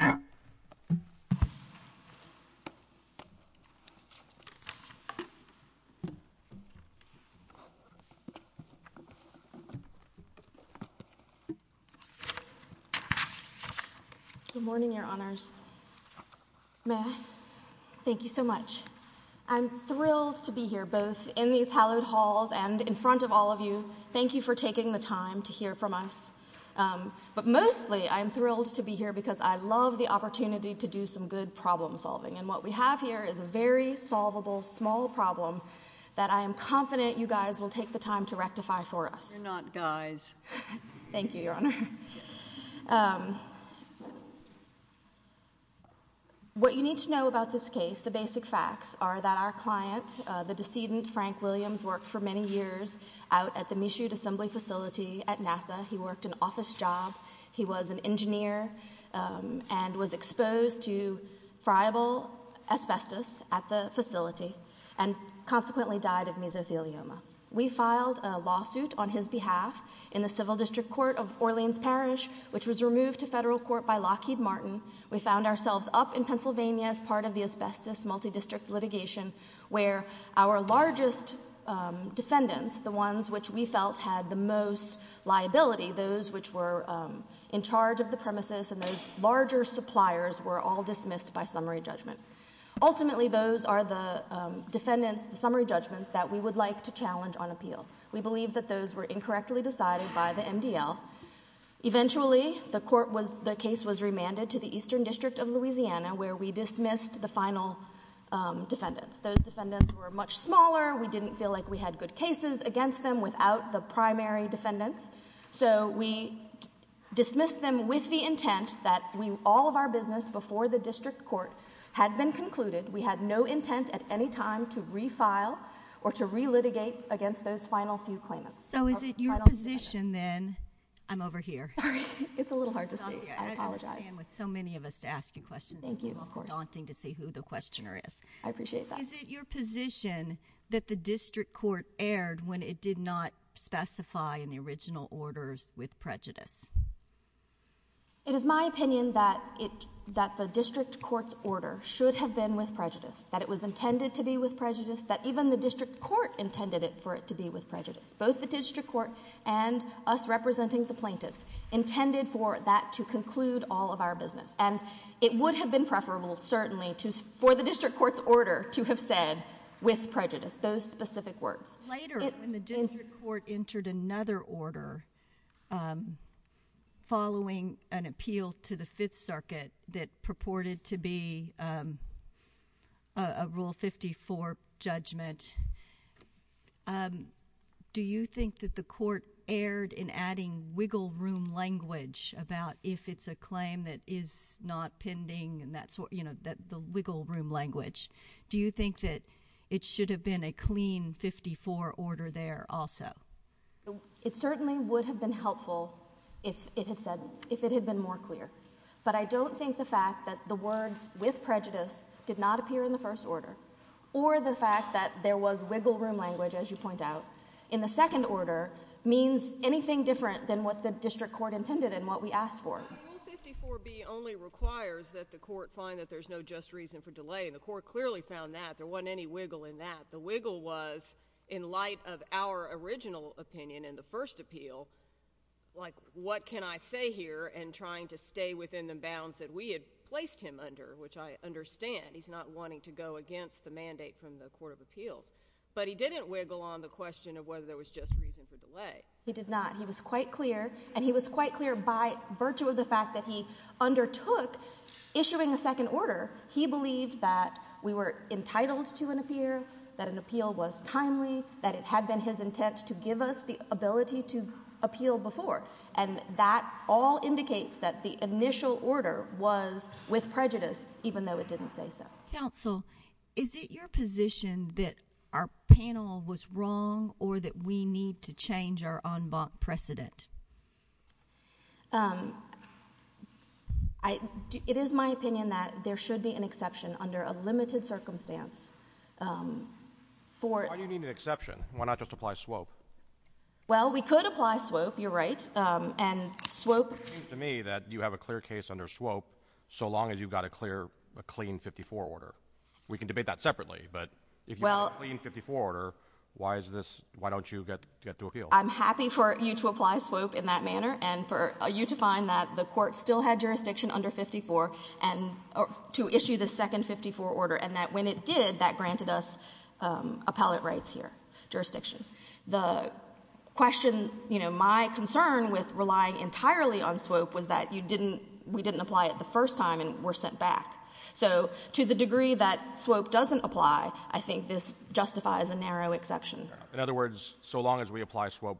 Good morning, Your Honors. Thank you so much. I'm thrilled to be here, both in these hallowed halls and in front of all of you. Thank you for taking the time to hear from us. But mostly, I'm thrilled to be here because I love the opportunity to do some good problem solving. And what we have here is a very solvable, small problem that I am confident you guys will take the time to rectify for us. You're not guys. Thank you, Your Honor. What you need to know about this case, the basic facts, are that our client, the decedent Frank Williams, worked for many years out at the Michoud Assembly Facility at NASA. He worked an office job. He was an engineer and was exposed to friable asbestos at the facility and consequently died of mesothelioma. We filed a lawsuit on his behalf in the Civil District Court of Orleans Parish, which was removed to federal court by Lockheed Martin. We found ourselves up in Pennsylvania as part of the asbestos multidistrict litigation where our largest defendants, the ones which we felt had the most liability, those which were in charge of the premises and those larger suppliers, were all dismissed by summary judgment. Ultimately, those are the defendants' summary judgments that we would like to challenge on appeal. We believe that those were incorrectly decided by the MDL. Eventually, the court was – the case was remanded to the Eastern District of Louisiana where we dismissed the final defendants. Those defendants were much smaller. We didn't feel like we had good cases against them without the primary defendants. So we dismissed them with the intent that all of our business before the district court had been concluded. We had no intent at any time to refile or to re-litigate against those final few claimants. MS. HILLIARD-JOHNSON. So is it your position then – I'm over here. MS. HILLIARD-JOHNSON. Sorry. It's a little hard to see. I apologize. MS. HILLIARD-JOHNSON. Thank you. HILLIARD-JOHNSON. I understand with so many of us asking questions. MS. HILLIARD-JOHNSON. Thank you. Of course. HILLIARD-JOHNSON. It's daunting to see who the questioner is. MS. HILLIARD-JOHNSON. I appreciate that. HILLIARD-JOHNSON. Is it your position that the district court erred when it did not specify in the original orders with prejudice? MS. HILLIARD-JOHNSON. It is my opinion that it – that the district court's order should have been with prejudice, that it was intended to be with prejudice, that even the district court intended it for it to be with prejudice. Both the district court and us representing the plaintiffs intended for that to conclude all of our business. And it would have been preferable, certainly, to – for the district court's order to have said, with prejudice, those specific words. MS. HILLIARD-JOHNSON. Later, when the district court entered another order following an appeal to the Fifth Circuit that purported to be – that was intended to be with prejudice, the district court said, Yes. MS. HILLIARD-JOHNSON. Yes. MS. HILLIARD-JOHNSON. And I know that you said that you were going to have a rule 54 judgment. Do you think that the court erred in adding wiggle room language about if it's a claim that is not pending and that sort – you know, the wiggle room language? Do you think that it should have been a clean 54 order there also? MS. HILLIARD-JOHNSON. It certainly would have been helpful if it had said – if it had been more clear. But I don't think the fact that the word with prejudice did not appear in the first MS. HILLIARD-JOHNSON. order, or the fact that there was wiggle room language, as you point out, in the second order, means anything different than what the district court intended and what we asked HILLIARD-JOHNSON. Rule 54b only requires that the court find that there's no just reason for delay, and the court clearly found that. There wasn't any wiggle in that. The wiggle was in light of our original opinion in the first appeal, like, what can I say here? And trying to stay within the bounds that we had placed him under, which I understand. He's not wanting to go to jail. He's not wanting to go to jail. He's not wanting to go to jail. But he didn't wiggle on the question of whether there was just reason for delay. MS. HILLIARD-JOHNSON. He did not. He was quite clear, and he was quite clear by virtue of the fact that he undertook issuing a second order. He believed that we were entitled to an appeal, that an appeal was timely, that it had been his intent to give us the ability to appeal before. And that all indicates that the initial order was with prejudice, even though it didn't MS. HILLIARD-JOHNSON. Yes. MS. HILLIARD-JOHNSON. Yes. MS. HILLIARD-JOHNSON. MS. HILLIARD-JOHNSON. Okay. Is it your position that our panel was wrong, or that we need to change our en banc precedent? MS. HILLIARD-JOHNSON. It is my opinion that there should be an exception under a limited circumstance for MS. HILLIARD-JOHNSON. Why do you need an exception? Why not just apply a swope? MS. Well, we could apply a swope. You're right. And swope. MS. HILLIARD-JOHNSON. It seems to me that you have a clear case under swope so long as you've got a clear, a clean 54 order. We can debate that separately. But if you have a clean 54 order, why is this, why don't you get the appeal? HILLIARD-JOHNSON. Well, I'm happy for you to apply a swope in that manner and for you to find that the court still had jurisdiction under 54 and, to issue the second 54 order, and that when it did, that granted us appellate rights here, jurisdiction. The question, you know, my concern with relying entirely on swope was that you didn't, we didn't apply it the first time and were sent back. Thank you. MS. HILLIARD-JOHNSON. Thank you. MS. HILLIARD-JOHNSON. I agree that swope doesn't apply. I think this justifies a narrow exception. MR. HOOKER. In other words, so long as we apply swope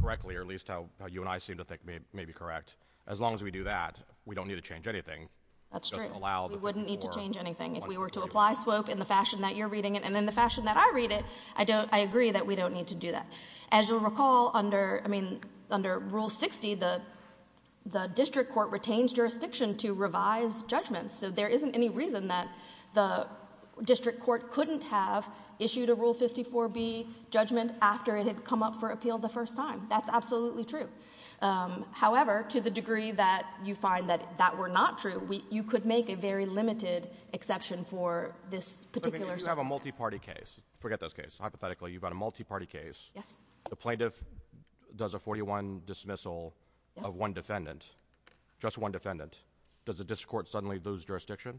correctly, or at least how you and I seem to think may be correct, as long as we do that, we don't need to change anything. HILLIARD-JOHNSON. HOOKER. It doesn't allow the court to go back and forth. MS. HILLIARD-JOHNSON. We wouldn't need to change anything. If we were to apply swope in the fashion that you're reading it and in the fashion that I read it, I don't, I agree that we don't need to do that. But as you'll recall, under, I mean, under Rule 60, the district court retains jurisdiction to revise judgments. So there isn't any reason that the district court couldn't have issued a Rule 54B judgment after it had come up for appeal the first time. That's absolutely true. However, to the degree that you find that that were not true, you could make a very limited exception for this particular rule. MR. HOOKER. But if you just have a multiparty case, forget those cases. Hypothetically, you've got a multiparty case. MS. MR. HOOKER. The plaintiff does a 41 dismissal of one defendant, just one defendant. Does the district court suddenly lose jurisdiction?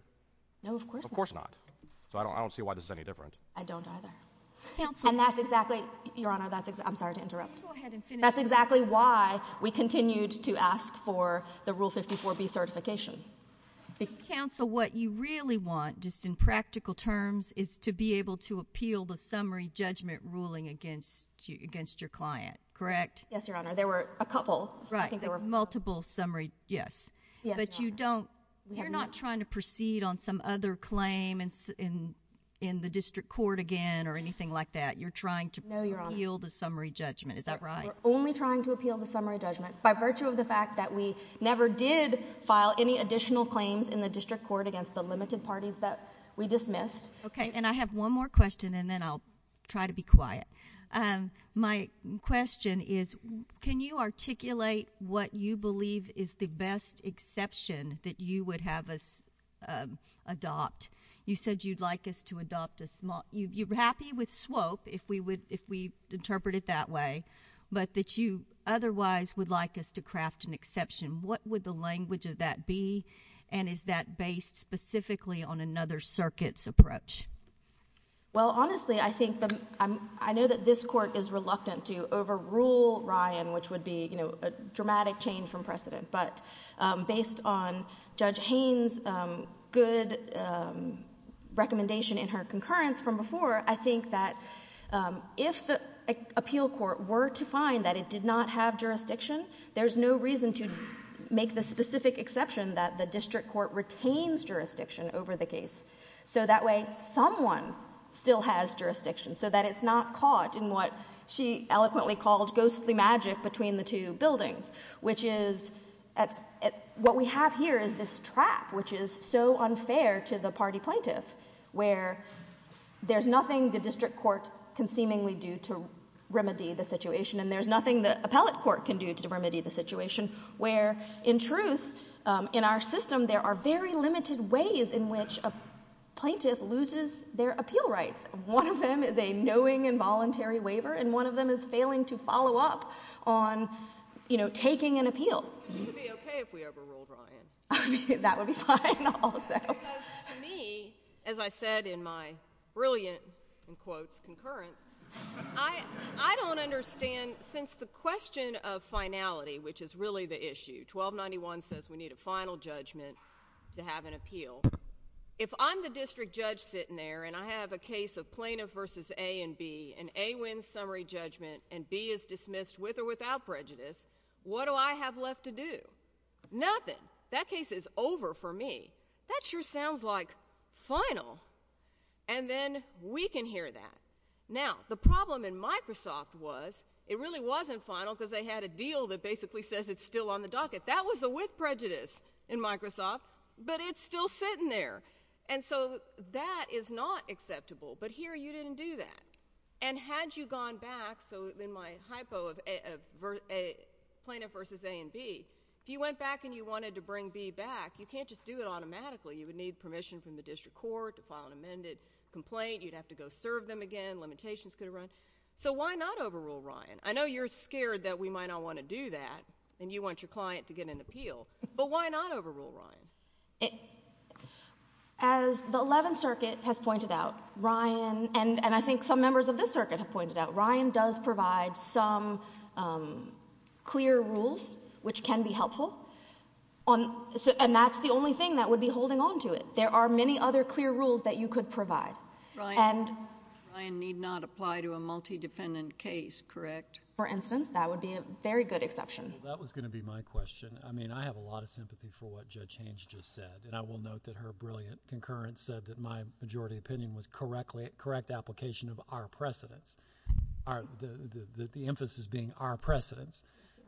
HILLIARD-JOHNSON. No, of course not. Of course not. So I don't see why this is any different. MS. I don't either. And that's exactly, Your Honor, that's, I'm sorry to interrupt. MS. HILLIARD-JOHNSON. Please go ahead and finish. MS. HILLIARD-JOHNSON. That's exactly why we continued to ask for the Rule 54B certification. MS. HILLIARD-JOHNSON. Okay. HILLIARD-JOHNSON. Counsel, what you really want, just in practical terms, is to be able to appeal the summary MS. HILLIARD-JOHNSON. There were a couple. HILLIARD-JOHNSON. MS. HILLIARD-JOHNSON. I think there were. HILLIARD-JOHNSON. Multiple summary, yes. MS. HILLIARD-JOHNSON. HILLIARD-JOHNSON. But you don't, you're not trying to proceed on some other claim in the district court again or anything like that. MS. HILLIARD-JOHNSON. No. HILLIARD-JOHNSON. HILLIARD-JOHNSON. Okay. And I have one more question, and then I'll try to be quiet. My question is, can you articulate what you believe is the best exception that you would have us adopt? You said you'd like us to adopt a small, you're happy with SWOPE, if we would, if we interpret it that way, but that you otherwise would like us to craft an exception. MS. HILLIARD-JOHNSON. Okay. Thank you. MS. HILLIARD-JOHNSON. Thank you. MS. HILLIARD-JOHNSON. Is there a reason that this Court has not recommended that we make that exception? And is that based specifically on another circuit's approach? HILLIARD-JOHNSON. Well, honestly, I think that, I know that this Court is reluctant to overrule Ryan, which would be, you know, a dramatic change from precedent. But based on Judge Haynes' good recommendation and her concurrence from before, I think that if the appeal court were to find that it did not have jurisdiction, there's no reason to make the specific exception that the district court retains jurisdiction over the case. So that way, someone still has jurisdiction, so that it's not caught in what she eloquently calls ghostly magic between the two buildings, which is, what we have here is this trap, which is so unfair to the party plaintiff, where there's nothing the district court can seemingly do to remedy the situation, and there's nothing the appellate court can do to remedy the situation, where, in truth, in our system, there are very limited ways in which a plaintiff loses their appeal rights. One of them is a knowing involuntary waiver, and one of them is failing to follow up on, you know, taking an appeal. HILLIARD-JOHNSON. It would be okay if we overruled Ryan. HILLIARD-JOHNSON. That would be fine also. HILLIARD-JOHNSON. Because, to me, as I said in my brilliant, in quotes, concurrence, I don't understand, since the question of finality, which is really the issue, 1291 says we need a final judgment to have an appeal. If I'm the district judge sitting there, and I have a case of plaintiff versus A and B, and A wins summary judgment, and B is dismissed with or without prejudice, what do I have left to do? Nothing. That case is over for me. That sure sounds like final. And then we can hear that. Now, the problem in Microsoft was, it really wasn't final because they had a deal that basically says it's still on the docket. That was a with prejudice in Microsoft, but it's still sitting there. And so that is not acceptable. But here you didn't do that. And had you gone back, so in my hypo of plaintiff versus A and B, if you went back and you wanted to bring B back, you can't just do it automatically. You would need permission from the district court to file an amended complaint, you'd have to have an application through us. So why not overrule Ryan? I know you're scared that we might not want to do that, and you want your client to get an appeal, but why not overrule Ryan? As the 11th Circuit has pointed out, Ryan, and I think some members of this circuit have pointed out, Ryan does provide some clear rules which can be helpful, and that's the only thing that would be holding on to it. There are many other clear rules that you could provide. Ryan need not apply to a multi-dependent case, correct? For instance, that would be a very good exception. That was going to be my question. I mean, I have a lot of sympathy for what Judge Haynes just said, and I will note that her brilliant concurrence said that my majority opinion was correct application of our precedence, the emphasis being our precedence.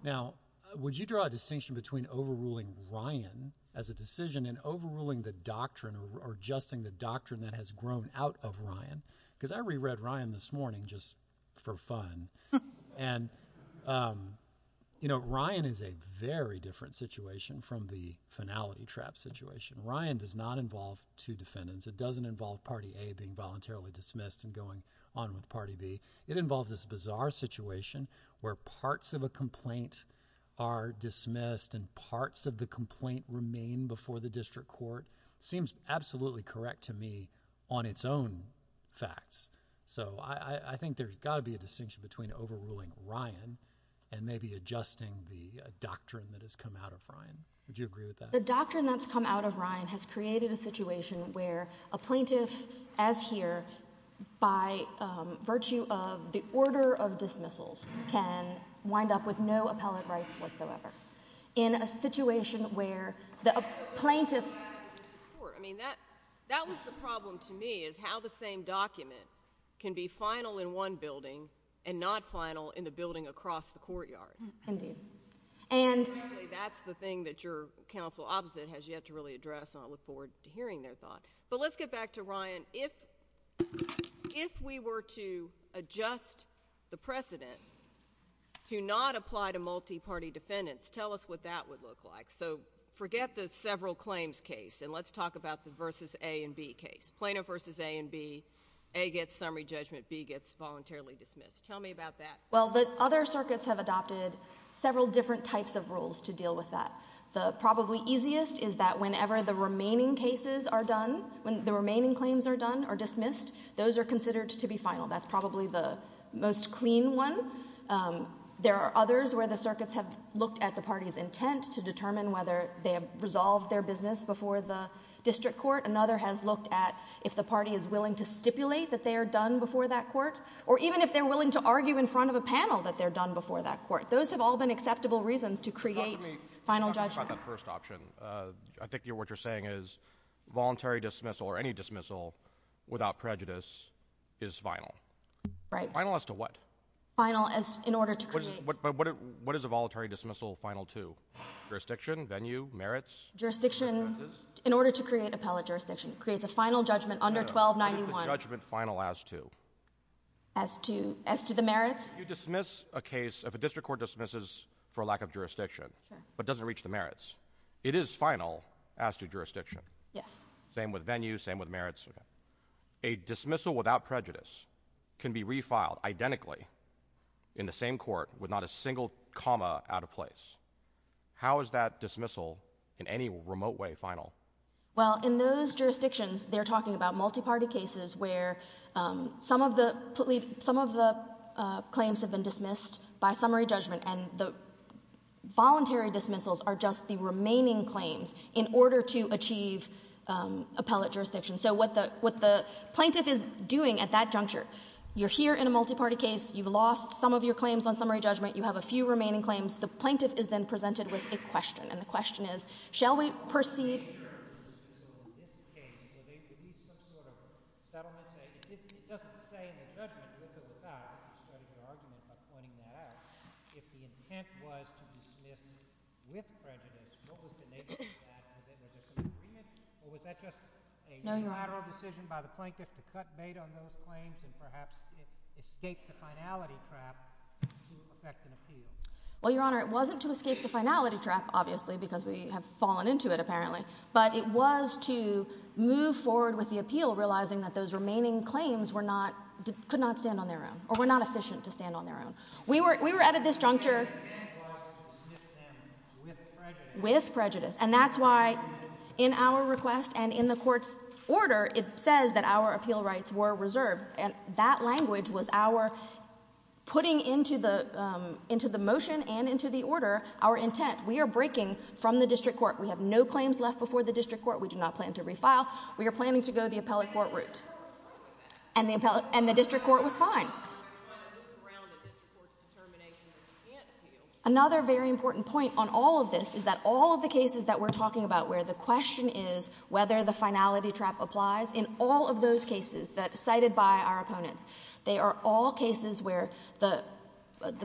Now, would you draw a distinction between overruling Ryan as a decision and overruling the doctrine or adjusting the doctrine that has grown out of Ryan? Because I reread Ryan this morning just for fun, and you know, Ryan is a very different situation from the finality trap situation. Ryan does not involve two defendants. It doesn't involve party A being voluntarily dismissed and going on with party B. It involves this bizarre situation where parts of a complaint are dismissed and parts of the complaint remain before the district court. Seems absolutely correct to me on its own facts. So I think there's got to be a distinction between overruling Ryan and maybe adjusting the doctrine that has come out of Ryan. Would you agree with that? The doctrine that's come out of Ryan has created a situation where a plaintiff as here by virtue of the order of dismissals can wind up with no appellate rights whatsoever. In a situation where the plaintiff... Sure. I mean, that was the problem to me, is how the same document can be final in one building and not final in the building across the courtyard. Indeed. And... That's the thing that your counsel opposite has yet to really address. I look forward to hearing their thoughts. But let's get back to Ryan. If we were to adjust the precedent to not apply to multi-party defendants, tell us what that would look like. So forget the several claims case, and let's talk about the versus A and B case. Plaintiff versus A and B, A gets summary judgment, B gets voluntarily dismissed. Tell me about that. Well, the other circuits have adopted several different types of rules to deal with that. The probably easiest is that whenever the remaining cases are done, when the remaining claims are done or dismissed, those are considered to be final. That's probably the most clean one. There are others where the circuits have looked at the party's intent to determine whether they have resolved their business before the district court. Another has looked at if the party is willing to stipulate that they are done before that court, or even if they're willing to argue in front of a panel that they're done before that court. Those have all been acceptable reasons to create final judgment. That's not the first option. I think what you're saying is voluntary dismissal or any dismissal without prejudice is final. Right. Final as to what? Final as in order to create... But what is a voluntary dismissal final to? Jurisdiction, venue, merits? Jurisdiction in order to create appellate jurisdiction. It creates a final judgment under 1291. Judgment final as to? As to the merits? You dismiss a case, if a district court dismisses for lack of jurisdiction, but doesn't reach the merits, it is final as to jurisdiction. Yes. Same with venue, same with merits. A dismissal without prejudice can be refiled identically in the same court with not a single comma out of place. How is that dismissal in any remote way final? Well, in those jurisdictions, they're talking about multi-party cases where some of the claims have been dismissed by summary judgment and the voluntary dismissals are just the remaining claims in order to achieve appellate jurisdiction. So what the plaintiff is doing at that juncture, you're here in a multi-party case, you've lost some of your claims on summary judgment, you have a few remaining claims, the plaintiff is then presented with this question. And the question is, shall we perceive... ...if the intent was to dismiss with prejudice, what was the nature of that? Was that just a unilateral decision by the plaintiff to cut data on those claims and perhaps escape the finality trap to effect an appeal? Well, Your Honor, it wasn't to escape the finality trap, obviously, because we have fallen into it, apparently. But it was to move forward with the appeal, realizing that those remaining claims were not...could not stand on their own, or were not efficient to stand on their own. We were at a disjuncture with prejudice. And that's why in our request and in the Court's order, it says that our appeal rights were reserved, and that language was our putting into the motion and into the order, our intent. We are breaking from the district court. We have no claims left before the district court. We do not plan to refile. We are planning to go the appellate court route. And the district court was fine. Another very important point on all of this is that all of the cases that we're talking about where the question is whether the finality trap applies, in all of those cases cited by our opponents, they are all cases where the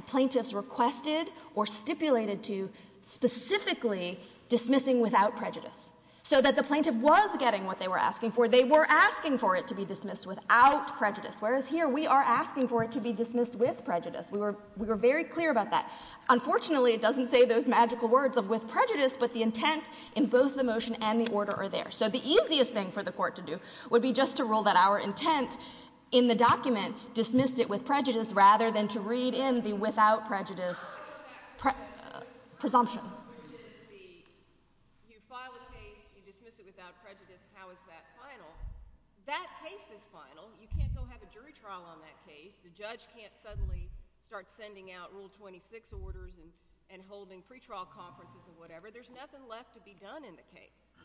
plaintiff's requested or stipulated to specifically dismissing without prejudice, so that the plaintiff was getting what they were asking for. They were asking for it to be dismissed without prejudice. Whereas here, we are asking for it to be dismissed with prejudice. We were very clear about that. Unfortunately, it doesn't say those magical words of with prejudice, but the intent in both the motion and the order are there. So the easiest thing for the Court to do would be just to rule that our intent in the document dismissed it with prejudice, rather than to read in the without prejudice presumption. If you file a case, you dismiss it without prejudice, how is that final? That case is final. You can't still have a jury trial on that case. The judge can't suddenly start sending out Rule 26 orders and holding pretrial conferences or whatever. There's nothing left to be done in the case.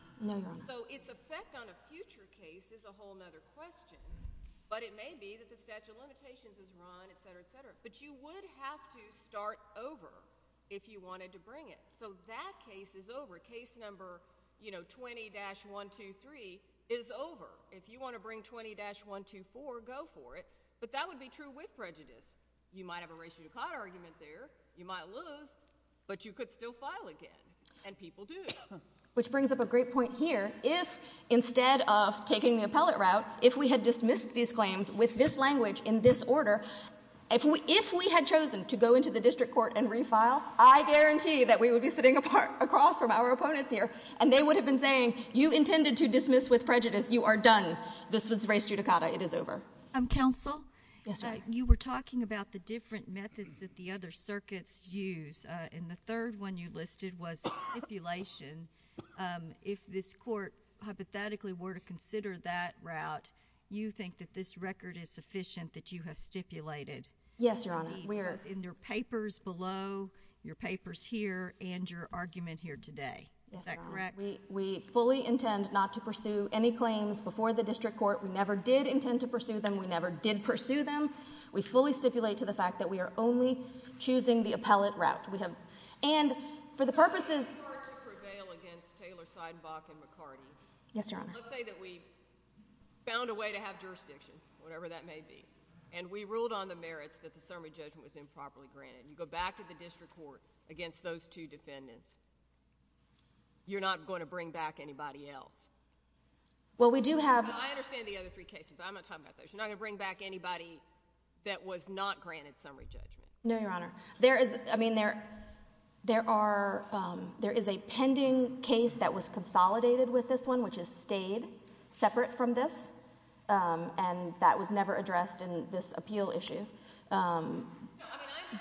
So its effect on a future case is a whole other question. But it may be that the statute of limitations is gone, et cetera, et cetera. But you would have to start over if you wanted to bring it. So that case is over. Case number, you know, 20-123 is over. If you want to bring 20-124, go for it. But that would be true with prejudice. You might have a ratio-con argument there. You might lose, but you could still file again. And people do that. Which brings up a great point here. If instead of taking the appellate route, if we had dismissed these claims with this if we had chosen to go into the district court and refile, I guarantee that we would be sitting across from our opponents here. And they would have been saying, you intended to dismiss with prejudice. You are done. This is race judicata. It is over. MS. GOTTLIEB. MS. GOTTLIEB. Yes, ma'am. MS. GOTTLIEB. You were talking about the different methods that the other circuits use. And the third one you listed was stipulation. If this court hypothetically were to consider that route, you think that this record is sufficient that you have stipulated? MS. GOTTLIEB. In your papers below, your papers here, and your argument here today. MS. GOTTLIEB. We fully intend not to pursue any claims before the district court. We never did intend to pursue them. We never did pursue them. We fully stipulate to the fact that we are only choosing the appellate route. We have—and for the purposes— MS. GOTTLIEB. If the court were to prevail against Taylor, Seidenbach, and McCartney— MS. GOTTLIEB. Yes, Your Honor. MS. GOTTLIEB. Let's say that we found a way to have jurisdiction, whatever that may be. And we ruled on the merits that the summary judgment was improperly granted. You go back to the district court against those two defendants, you're not going to bring back anybody else? MS. GOTTLIEB. Well, we do have— MS. GOTTLIEB. I understand the other three cases. I'm not talking about those. You're not going to bring back anybody that was not granted summary judgment? MS. GOTTLIEB. No, Your Honor. There is—I mean, there are—there is a pending case that was consolidated with this one, which has stayed separate from this. And that was never addressed in this appeal issue. MS. GOTTLIEB.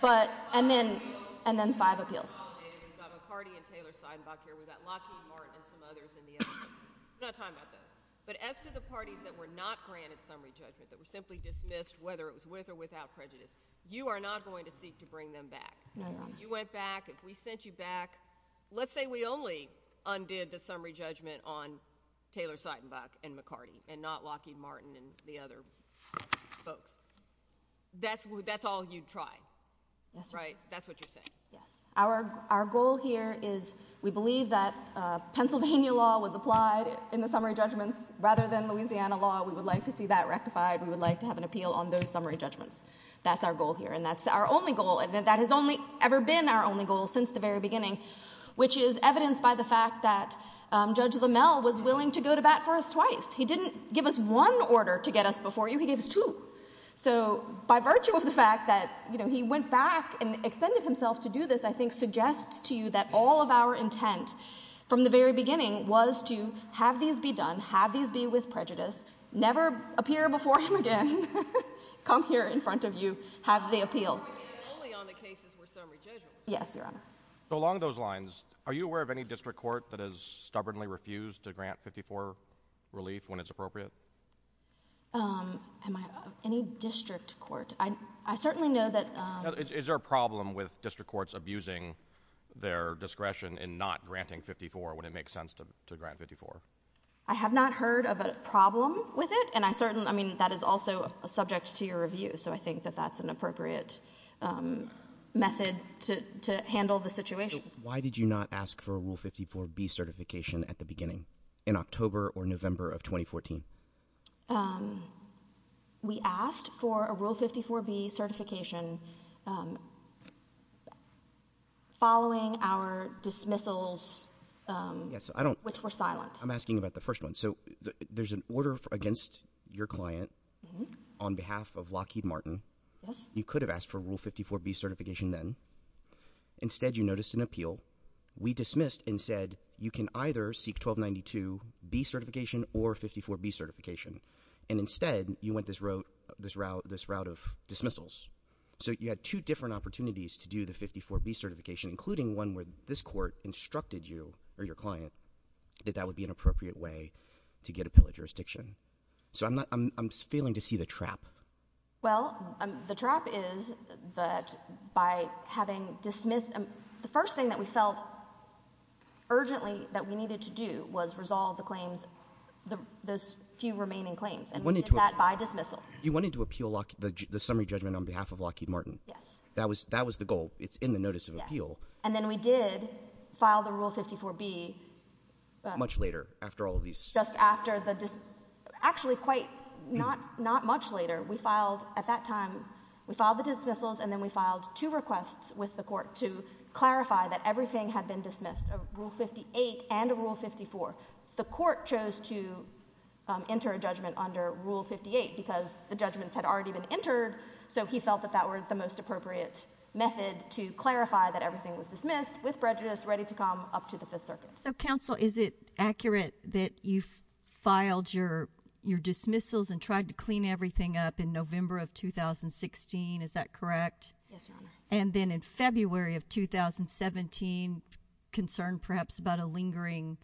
No, I mean, I understand— MS. GOTTLIEB. But—and then—and then five appeals. MS. GOTTLIEB. —consolidated with Gottlieb, McCartney, and Taylor, Seidenbach here. We've got Lockheed Martin and some others in the audience. We don't have time for this. But as to the parties that were not granted summary judgment, that were simply dismissed whether it was with or without prejudice, you are not going to seek to bring them back? MS. GOTTLIEB. No, Your Honor. MS. GOTTLIEB. If you went back, if we sent you back—let's say we only undid the summary judgment on Taylor, Seidenbach, and McCartney, and not Lockheed Martin and the other folks, that's all you'd try, right? That's what you're saying. MS. GOTTLIEB. Our goal here is we believe that Pennsylvania law was applied in the summary judgment. Rather than Louisiana law, we would like to see that rectified. We would like to have an appeal on those summary judgments. That's our goal here. And that's our only goal. That has only ever been our only goal since the very beginning, which is evidenced by the fact that Judge LaMelle was willing to go to bat for us twice. He didn't give us one order to get us before you. He gave us two. So by virtue of the fact that he went back and extended himself to do this, I think suggests to you that all of our intent from the very beginning was to have these be done, have these be with prejudice, never appear before him again, come here in front of you, have the appeal. GOTTLIEB. Only on the cases where summary judgment. MS. GOTTLIEB. Yes, Your Honor. MR. At the beginning in October or November of 2014. GOTTLIEB. We asked for a Rule 54B certification following our dismissals, which were silenced. MR. I'm asking about the first one. So there's an order against your client on behalf of Lockheed Martin. You could have asked for Rule 54B certification then. Instead, you noticed an appeal. We dismissed and said you can either seek 1292B certification or 54B certification. And instead, you went this route of dismissals. So you had two different opportunities to do the 54B certification, including one where this court instructed you or your client that that would be an appropriate way to get a pill of jurisdiction. So I'm failing to see the trap. MS. GOTTLIEB. So what we felt urgently that we needed to do was resolve the claims, the few remaining claims. And we did that by dismissal. MR. You wanted to appeal the summary judgment on behalf of Lockheed Martin. MS. GOTTLIEB. MR. That was the goal. It's in the notice of appeal. MS. GOTTLIEB. And then we did file the Rule 54B. MR. Much later after all of these. MS. GOTTLIEB. Just after the dismissal. Actually, quite not much later. We filed at that time. We filed the dismissals and then we filed two requests with the court to clarify that everything had been dismissed, a Rule 58 and a Rule 54. The court chose to enter a judgment under Rule 58 because the judgments had already been entered. So he felt that that was the most appropriate method to clarify that everything was dismissed with prejudice, ready to come up to the Fifth Circuit. MS. GOTTLIEB. Counsel, is it accurate that you filed your dismissals and tried to clean everything up in November of 2016? Is that correct? MS. GOTTLIEB. Yes, Your Honor. GOTTLIEB. And then in February of 2017, concerned perhaps about a lingering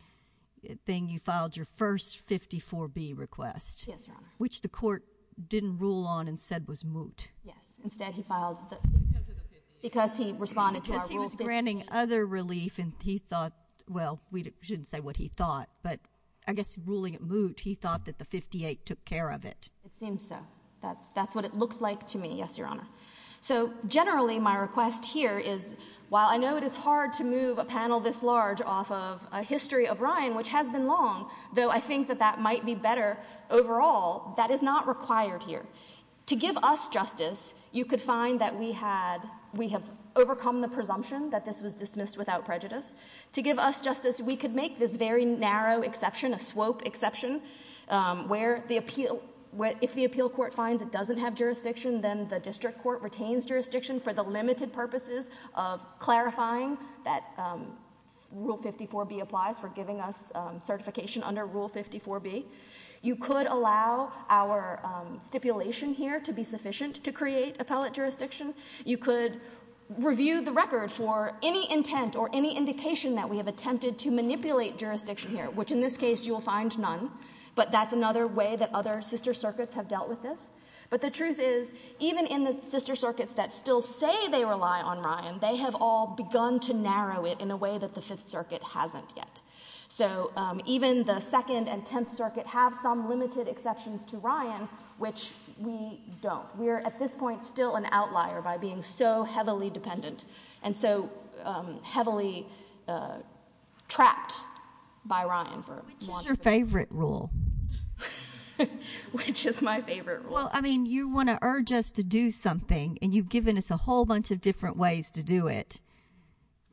thing, you filed your first 54B request. MS. GOTTLIEB. Yes, Your Honor. MS. Which the court didn't rule on and said was moot. GOTTLIEB. Yes. Instead, he filed because he responded to our Rule 58. MS. GOTTLIEB. Because he was granting other relief and he thought, well, we shouldn't say what he thought, but I guess ruling it moot, he thought that the 58 took care of it. MS. GOTTLIEB. It seems so. That's what it looks like to me, yes, Your Honor. So generally, my request here is, while I know it is hard to move a panel this large off of a history of rhyme, which has been long, though I think that that might be better overall, that is not required here. To give us justice, you could find that we have overcome the presumption that this was dismissed without prejudice. To give us justice, we could make this very narrow exception, a swope exception, where if the appeal court finds it doesn't have jurisdiction, then the district court retains jurisdiction for the limited purposes of clarifying that Rule 54B applies for giving us certification under Rule 54B. You could allow our stipulation here to be sufficient to create appellate jurisdiction. You could review the record for any intent or any indication that we have attempted to manipulate jurisdiction here, which in this case, you will find none. But that's another way that other sister circuits have dealt with this. But the truth is, even in the sister circuits that still say they rely on rhyme, they have all begun to narrow it in a way that the Fifth Circuit hasn't yet. So even the Second and Tenth Circuit have some limited exceptions to rhyme, which we don't. We are at this point still an outlier by being so heavily dependent and so heavily trapped by rhyme. What's your favorite rule? Which is my favorite rule? Well, I mean, you want to urge us to do something, and you've given us a whole bunch of different ways to do it.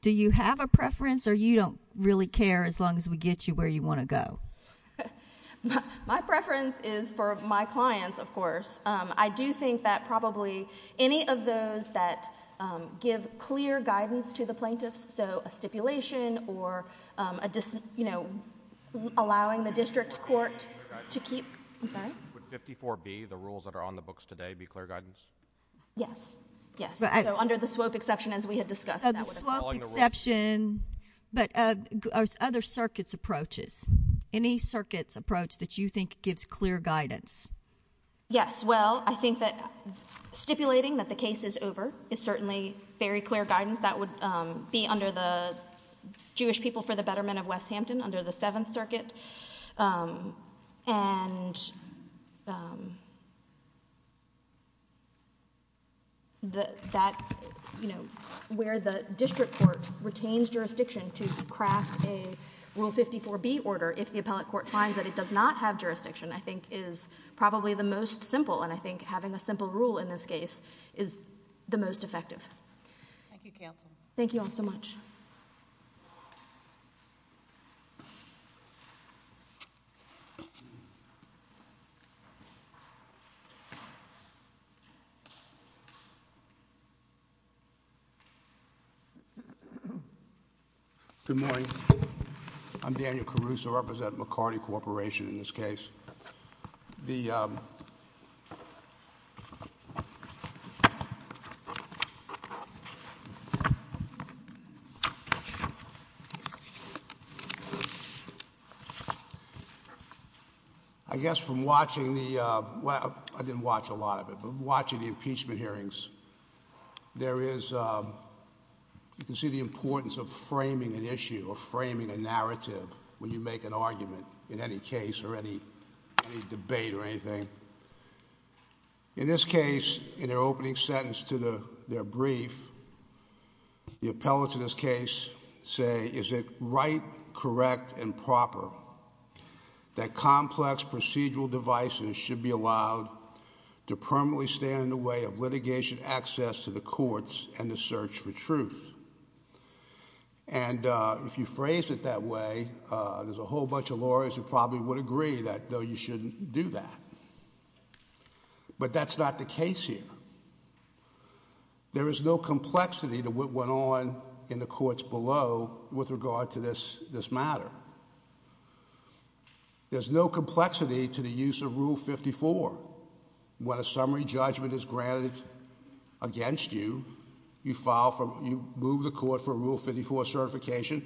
Do you have a preference, or you don't really care as long as we get you where you want to go? My preference is for my clients, of course. I do think that probably any of those that give clear guidance to the plaintiffs, so a stipulation or, you know, allowing the district court to keep... Would 54B, the rules that are on the books today, be clear guidance? Yes. Yes. Under the SWOPE exception, as we have discussed. Under the SWOPE exception, but other circuits' approaches, any circuits' approach that you think gives clear guidance? Yes. Well, I think that stipulating that the case is over is certainly very clear guidance. That would be under the Jewish People for the Betterment of West Hampton, under the Seventh Circuit. And that, you know, where the district court retains jurisdiction to craft a Rule 54B order if the appellate court finds that it does not have jurisdiction, I think, is probably the most simple. And I think having a simple rule in this case is the most effective. Thank you, Counsel. Thank you all so much. Good morning. I'm Daniel Caruso. I represent McCarty Corporation in this case. The I guess from watching the, well, I didn't watch a lot of it, but watching the impeachment hearings, there is, you can see the importance of framing an issue or framing a narrative when you make an argument in any case or any debate or anything. In this case, in their opening sentence to their brief, the appellates in this case say, is it right, correct, and proper that complex procedural devices should be allowed to permanently stand in the way of litigation access to the courts and the search for truth? And if you phrase it that way, there's a whole bunch of lawyers who probably would agree that, no, you shouldn't do that. But that's not the case here. There is no complexity to what went on in the courts below with regard to this matter. There's no complexity to the use of Rule 54. When a summary judgment is granted against you, you file for, you move the court for Rule 54 certification.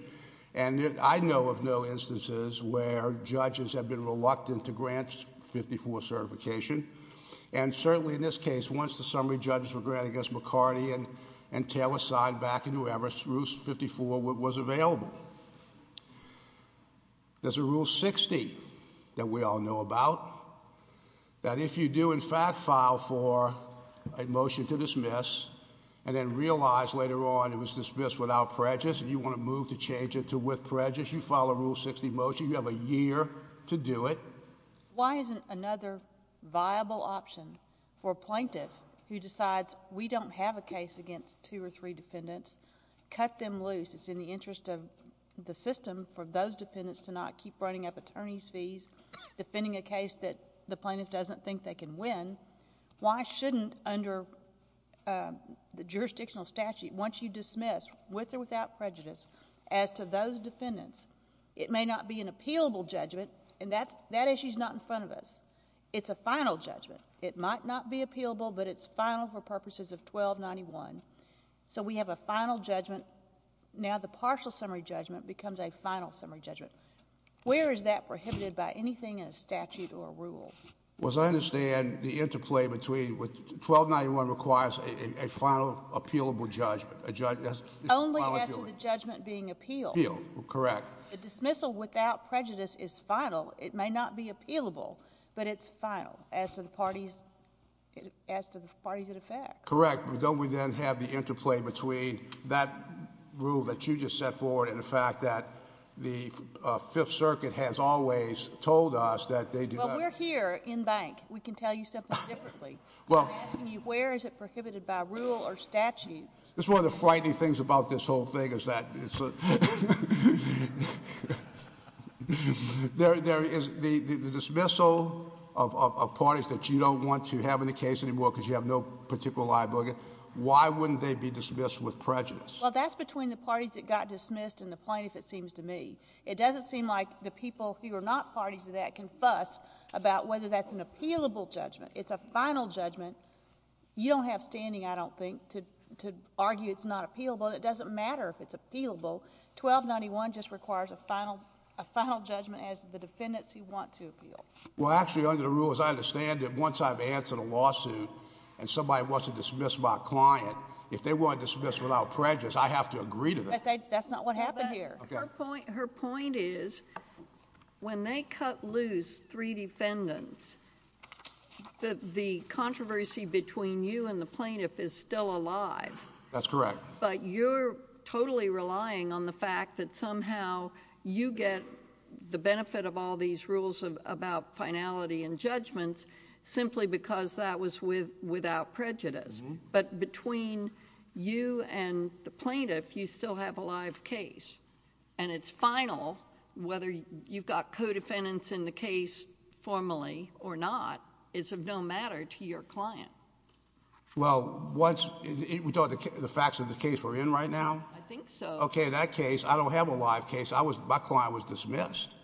And I know of no instances where judges have been reluctant to grant 54 certification. And certainly in this case, once the summary judges were granted against McCarty and Taylor signed back and whoever, Rule 54 was available. There's a Rule 60 that we all know about. That if you do, in fact, file for a motion to dismiss and then realize later on it was dismissed without prejudice, and you want to move to change it to with prejudice, you file a Rule 60 motion. You have a year to do it. Why isn't another viable option for a plaintiff who decides, we don't have a case against two or three defendants, cut them loose? It's in the interest of the system for those defendants to not keep running up attorney's cases that the plaintiff doesn't think they can win. Why shouldn't under the jurisdictional statute, once you dismiss with or without prejudice as to those defendants, it may not be an appealable judgment and that issue is not in front of us. It's a final judgment. It might not be appealable, but it's final for purposes of 1291. So we have a final judgment. Now the partial summary judgment becomes a final summary judgment. Where is that prohibited by anything in a statute or a rule? Well, as I understand, the interplay between 1291 requires a final appealable judgment. Only after the judgment being appealed. Appealed. Correct. A dismissal without prejudice is final. It may not be appealable, but it's final as to the parties, as to the parties that affect. Correct. Don't we then have the interplay between that rule that you just set forward and the fact that the Fifth Circuit has always told us that they do not. Well, we're here in bank. We can tell you something differently. Well. Where is it prohibited by rule or statute? That's one of the frightening things about this whole thing is that there is the dismissal of parties that you don't want to have in the case anymore because you have no particular liability. Why wouldn't they be dismissed with prejudice? Well, that's between the parties that got dismissed and the plaintiffs, it seems to me. It doesn't seem like the people who are not parties to that can fuss about whether that's an appealable judgment. It's a final judgment. You don't have standing, I don't think, to argue it's not appealable. It doesn't matter if it's appealable. 1291 just requires a final judgment as to the defendants you want to appeal. Well, actually, under the rules, I understand that once I've answered a lawsuit and somebody wants to dismiss my client, if they want to dismiss without prejudice, I have to agree to that. That's not what happened here. Her point is when they cut loose three defendants, the controversy between you and the plaintiff is still alive. That's correct. But you're totally relying on the fact that somehow you get the benefit of all these rules about finality and judgment simply because that was without prejudice. But between you and the plaintiff, you still have a live case. And it's final whether you've got co-defendants in the case formally or not. It's of no matter to your client. Well, the facts of the case we're in right now? I think so. Okay, that case, I don't have a live case. My client was dismissed. So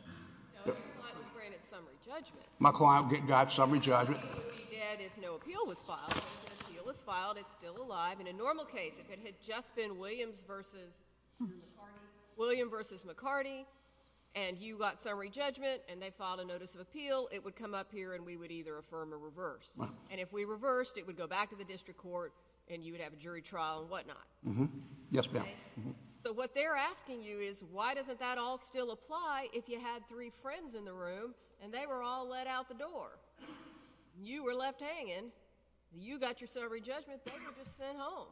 you're concentrating on summary judgment? My client got summary judgment. So what you said is no appeal was filed. No appeal was filed. It's still alive. In a normal case, if it had just been Williams versus McCarty and you got summary judgment and they filed a notice of appeal, it would come up here and we would either affirm or reverse. And if we reversed, it would go back to the district court and you would have a jury trial and whatnot. Yes, ma'am. So what they're asking you is why doesn't that all still apply if you had three friends in the room and they were all let out the door? You were left hanging. You got your summary judgment. They were just sent home.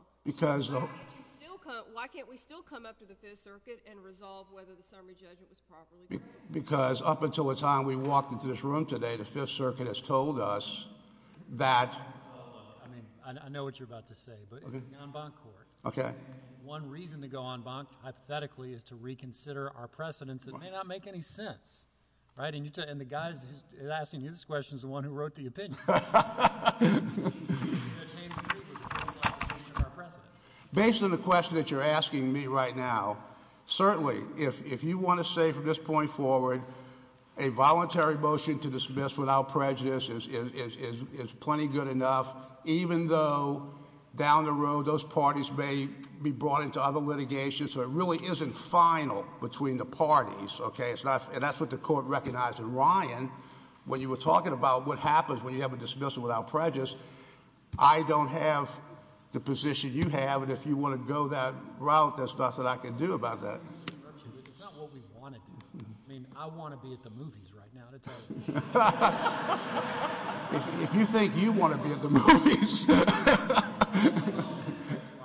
Why can't we still come up to the Fifth Circuit and resolve whether the summary judgment was properly made? Because up until the time we've walked into this room today, the Fifth Circuit has told us that— I know what you're about to say, but it's non-bond court. Okay. One reason to go on bond hypothetically is to reconsider our precedents that may not make any sense, right? And the guy that's asking you this question is the one who wrote the opinion. Based on the question that you're asking me right now, certainly, if you want to say from this point forward a voluntary motion to dismiss without prejudice is plenty good enough, even though down the road those parties may be brought into other litigations. So it really isn't final between the parties, okay? And that's what the court recognized. And Ryan, when you were talking about what happens when you have a dismissal without prejudice, I don't have the position you have. And if you want to go that route, there's nothing I can do about that. It's not what we wanted. I mean, I want to be at the movies right now. That's all I'm saying. If you think you want to be at the movies.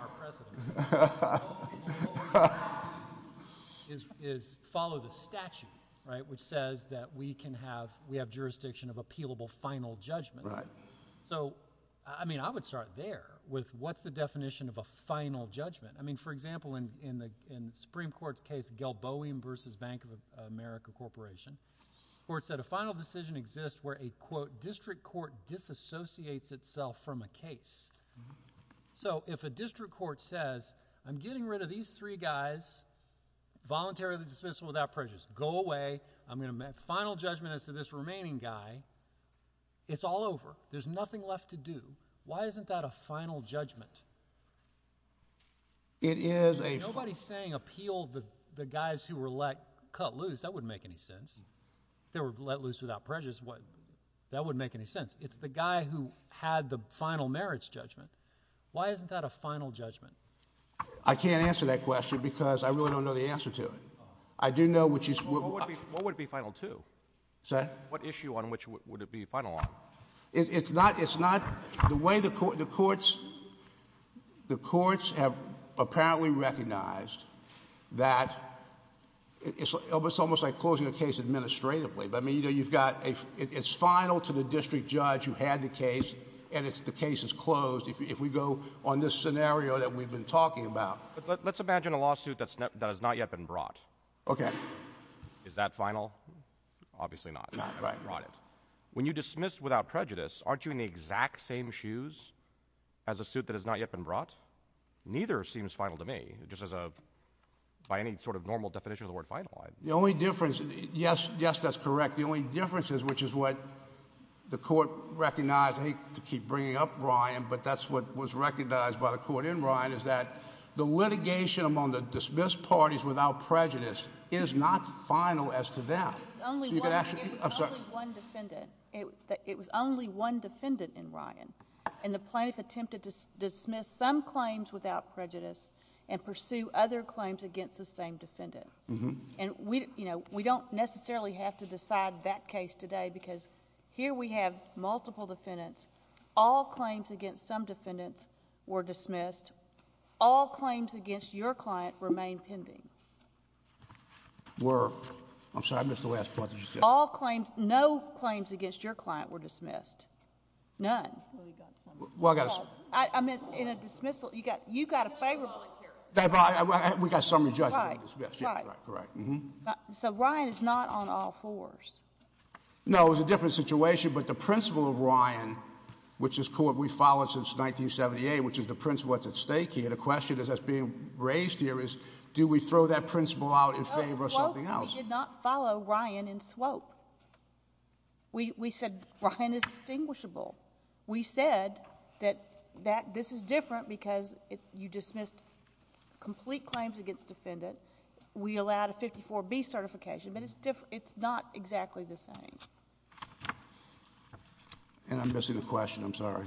Our precedent is follow the statute, right, which says that we can have, we have jurisdiction of appealable final judgment. So, I mean, I would start there with what's the definition of a final judgment? I mean, for example, in the Supreme Court's case of Galboa versus Bank of America Corporation, where it said a final decision exists where a, quote, district court disassociates itself from a case. So if a district court says, I'm getting rid of these three guys, voluntarily dismissal without prejudice. Go away. I'm going to make final judgment as to this remaining guy. It's all over. There's nothing left to do. Why isn't that a final judgment? It is a. Nobody's saying appeal the guys who were let cut loose. That wouldn't make any sense. They were let loose without prejudice. That wouldn't make any sense. It's the guy who had the final merits judgment. Why isn't that a final judgment? I can't answer that question because I really don't know the answer to it. I do know what you. What would it be final to? What issue on which would it be final on? It's not, it's not the way the court, the courts, the courts have apparently recognized that it's almost like closing a case administratively. But I mean, you know, you've got a, it's final to the district judge who had the case and it's the case is closed. If we go on this scenario that we've been talking about. Let's imagine a lawsuit that's not yet been brought. Okay. Is that final? Obviously not. Right. When you dismiss without prejudice, aren't you in the exact same shoes as a suit that has not yet been brought? Neither seems final to me, just as a, by any sort of normal definition of the word final. The only difference. Yes, yes, that's correct. The only difference is, which is what the court recognized. I need to keep bringing up Ryan, but that's what was recognized by the court in Ryan is that the litigation among the dismissed parties without prejudice is not final as to them. It was only one defendant in Ryan and the plaintiff attempted to dismiss some claims without prejudice and pursue other claims against the same defendant. And we, you know, we don't necessarily have to decide that case today because here we have multiple defendants. All claims against some defendants were dismissed. All claims against your client remain pending. Were, I'm sorry, I missed the last part that you said. All claims, no claims against your client were dismissed. None. Well, I got to say. I meant in a dismissal, you got, you got a favorable here. They've, we've got some adjustments, yes, correct, correct. So Ryan is not on all fours. No, it's a different situation, but the principle of Ryan, which is court, we followed since 1978, which is the principle that's at stake here. The question that's being raised here is, do we throw that principle out and favor something else? We did not follow Ryan in Swope. We, we said Ryan is distinguishable. We said that, that this is different because you dismiss complete claims against defendants. We allowed a 54B certification, but it's different. It's not exactly the same. And I'm missing a question. I'm sorry.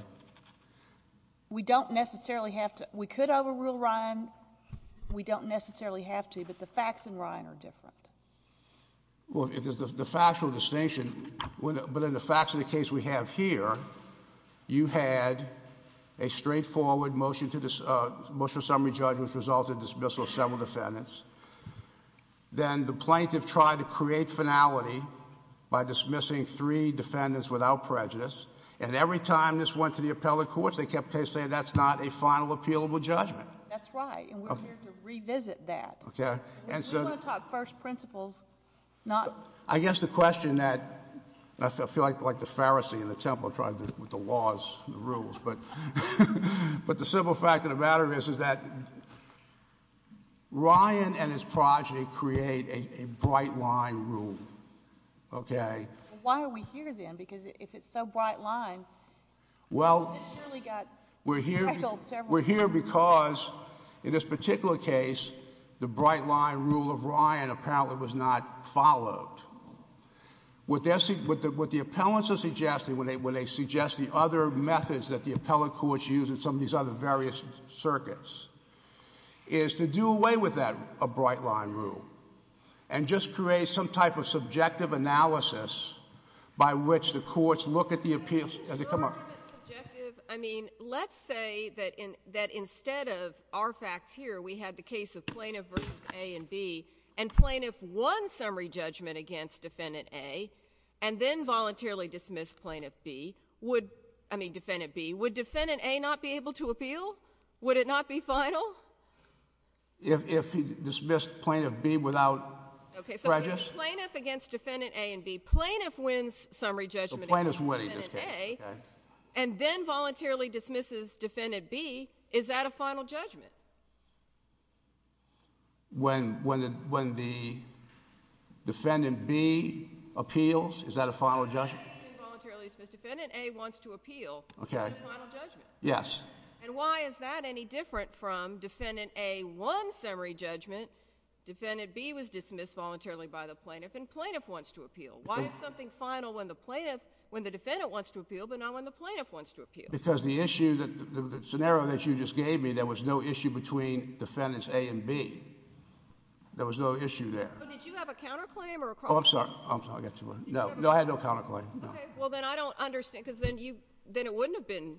We don't necessarily have to, we could overrule Ryan. We don't necessarily have to, but the facts in Ryan are different. Well, it is the factual distinction, but in the facts of the case we have here, you had a straightforward motion to, motion of summary judgment with result of dismissal of several defendants. Then the plaintiff tried to create finality by dismissing three defendants without prejudice. And every time this went to the appellate courts, they kept saying, that's not a final appealable judgment. That's right. And we're here to revisit that. Okay. I just want to talk first principles, not... I guess the question that, I feel like the Pharisee in the temple trying to do with the laws, the rules, but, but the simple fact of the matter is, is that Ryan and his progeny create a bright line rule. Okay. Why are we here then? Because if it's so bright line... Well, we're here, we're here because in this particular case, the bright line rule of Ryan apparently was not followed. What the appellants are suggesting when they, when they suggest the other methods that the appellate courts use in some of these other various circuits, is to do away with that bright line rule and just create some type of subjective analysis by which the courts look at the appearance of the... Objective? I mean, let's say that in, that instead of our facts here, we had the case of plaintiff versus A and B and plaintiff won summary judgment against defendant A and then voluntarily dismissed plaintiff B. Would, I mean, defendant B, would defendant A not be able to appeal? Would it not be final? If, if he dismissed plaintiff B without prejudice? Okay, so plaintiff against defendant A and B. Plaintiff wins summary judgment against defendant A... So plaintiff wins, okay.... and then voluntarily dismisses defendant B, is that a final judgment? When, when the, when the defendant B appeals, is that a final judgment? He voluntarily dismissed, defendant A wants to appeal. Okay. Is that a final judgment? Yes. And why is that any different from defendant A won summary judgment, defendant B was dismissed voluntarily by the plaintiff and plaintiff wants to appeal? Why is something final when the plaintiff, when the defendant wants to appeal, but not when the plaintiff wants to appeal? Because the issue that, the scenario that you just gave me, there was no issue between defendants A and B. There was no issue there. But did you have a counterclaim or a... Oh, I'm sorry. I'm sorry, I got too much. No, no, I had no counterclaim. Well, then I don't understand, because then you, then it wouldn't have been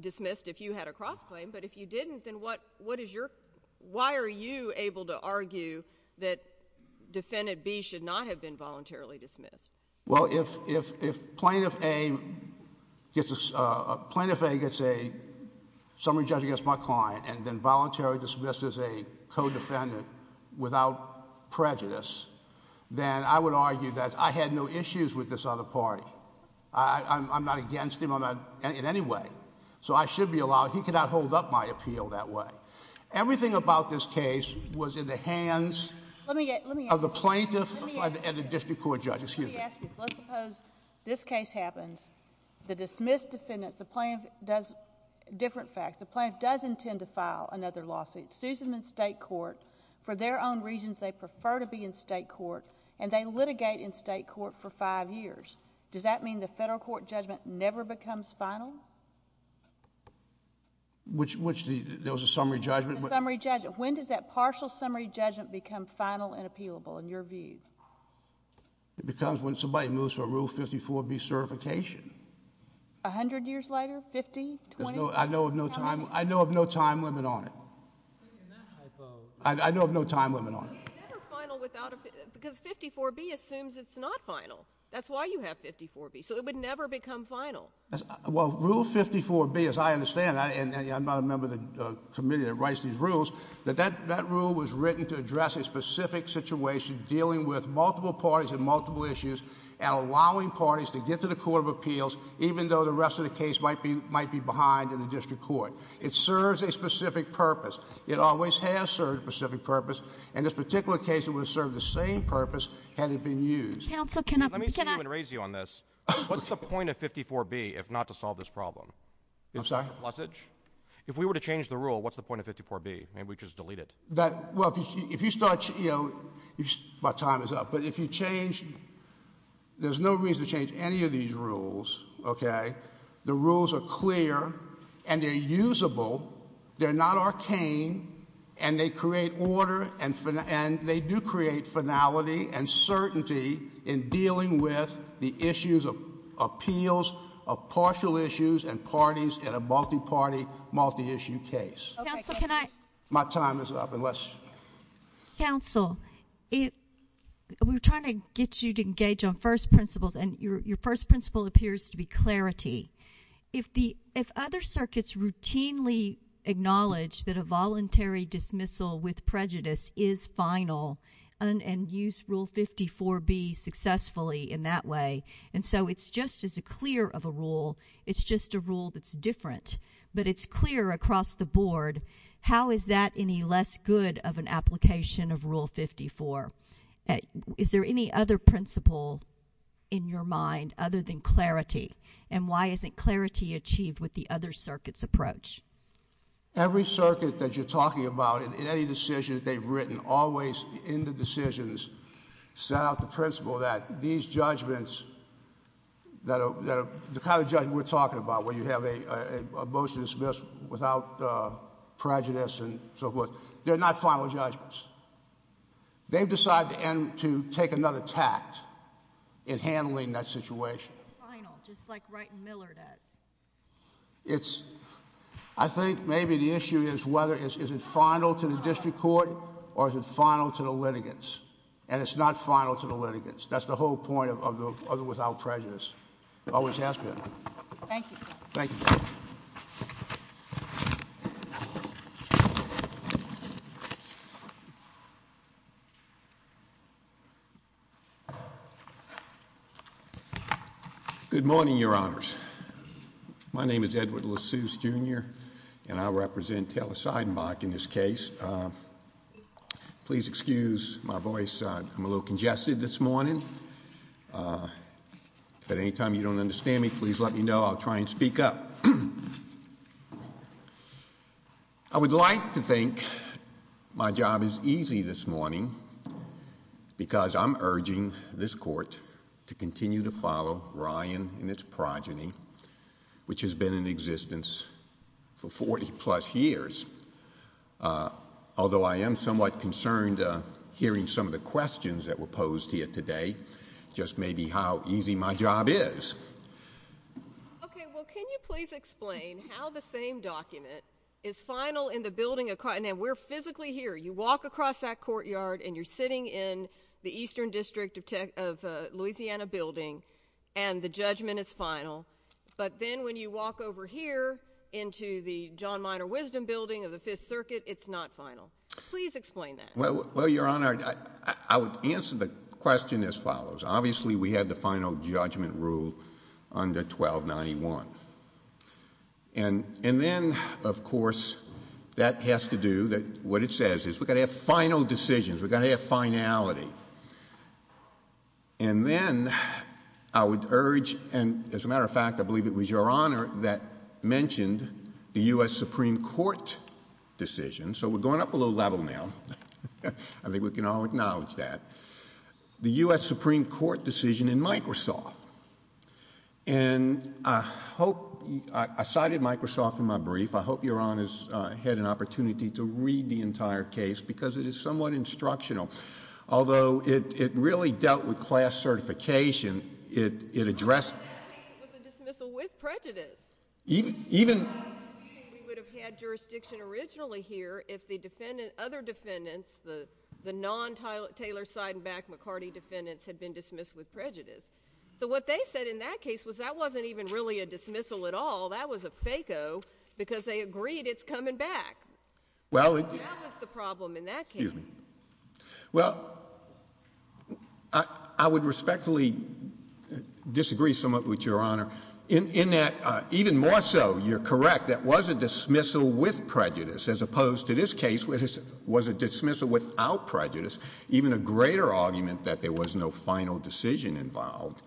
dismissed if you had a cross-claim, but if you didn't, then what, what is your, why are you able to argue that defendant B should not have been voluntarily dismissed? Well, if, if, if plaintiff A gets a, plaintiff A gets a summary judgment against my client and then voluntarily dismisses a co-defendant without prejudice, then I would argue that I had no issues with this other party. I, I'm, I'm not against him, I'm not, in any way. So I should be allowed, he cannot hold up my appeal that way. Everything about this case was in the hands of the plaintiff and the district court judge. Excuse me. Let's suppose this case happens, the dismissed defendant, the plaintiff does, different facts, the plaintiff does intend to file another lawsuit, sues them in state court for their own reasons, they prefer to be in state court, and they litigate in state court for five years. Does that mean the federal court judgment never becomes final? Which, which the, there was a summary judgment. Summary judgment. When did that partial summary judgment become final and appealable in your view? It becomes when somebody moves to a Rule 54B certification. A hundred years later? Fifty, twenty? I know of no time, I know of no time limit on it. It's never final without a, because 54B assumes it's not final. That's why you have 54B. So it would never become final. Well, Rule 54B, as I understand, and I'm not a member of the committee that writes these rules, but that, that rule was written to address a specific situation dealing with multiple parties and multiple issues and allowing parties to get to the court of appeals even though the rest of the case might be, might be behind in the district court. It serves a specific purpose. It always has served a specific purpose. In this particular case, it would have served the same purpose had it been used. Counsel, can I, can I? Let me see if I can raise you on this. What's the point of 54B if not to solve this problem? I'm sorry? If we were to change the rule, what's the point of 54B? Maybe we could just delete it. That, well, if you start, you know, my time is up. But if you change, there's no reason to change any of these rules, okay? The rules are clear and they're usable. They're not arcane and they create order and, and they do create finality and certainty in dealing with the issues of appeals of partial issues and parties in a multi-party, multi-issue case. Counsel, can I? My time is up. Counsel, it, we're trying to get you to engage on first principles and your, your first principle appears to be clarity. If the, if other circuits routinely acknowledge that a voluntary dismissal with prejudice is final and, and use Rule 54B successfully in that way, and so it's just as a clear of a rule, it's just a rule that's different, but it's clear across the board, how is that any less good of an application of Rule 54? Is there any other principle in your mind other than clarity? And why isn't clarity achieved with the other circuits' approach? Every circuit that you're talking about, in any decision that they've written, always in the decisions, set out the principle that these judgments that are, that are the kind of judgment we're talking about, where you have a, a motion to dismiss without prejudice and so forth, they're not final judgments. They've decided to end, to take another tact in handling that situation. It's final, just like Wright and Miller did. It's, I think maybe the issue is whether it's, is it final to the district court or is it final to the litigants? And it's not final to the litigants. That's the whole point of, of, of without prejudice. It always has been. Thank you. Thank you. Good morning, Your Honors. My name is Edward Lasuse, Jr., and I represent Taylor-Seidenbach in this case. Please excuse my voice. I'm a little congested this morning. But anytime you don't understand me, please let me know. I'll try and speak up. I would like to think my job is easy this morning, because I'm urging this court to continue to follow Ryan and his progeny, which has been in existence for 40-plus years. Although I am somewhat concerned hearing some of the questions that were posed here today, just maybe how easy my job is. Okay. Well, can you please explain how the same document is final in the building of, and we're physically here. You walk across that courtyard and you're sitting in the Eastern District of Louisiana building, and the judgment is final. But then when you walk over here into the John Minor Wisdom building of the Fifth Circuit, it's not final. Please explain that. Well, Your Honor, I would answer the question as follows. Obviously, we had the final judgment rule under 1291. And then, of course, that has to do that what it says is we've got to have final decisions. We've got to have finality. And then I would urge, and as a matter of fact, I believe it was Your Honor that mentioned the U.S. Supreme Court decision. So we're going up a little level now. I think we can all acknowledge that. The U.S. Supreme Court decision in Microsoft. And I hope, I cited Microsoft in my brief. I hope Your Honor has had an opportunity to read the entire case because it is somewhat instructional. Although it really dealt with class certification, it addressed. It was a dismissal with prejudice. Even. It would have had jurisdiction originally here if the defendant, other defendants, the non-Taylor-Seidenbach-McCarty defendants had been dismissed with prejudice. So what they said in that case was that wasn't even really a dismissal at all. That was a FACO because they agreed it's coming back. Well. Well, I would respectfully disagree somewhat with Your Honor in that even more so, you're correct, that was a dismissal with prejudice as opposed to this case, which was a dismissal without prejudice. Even a greater argument that there was no final decision involved.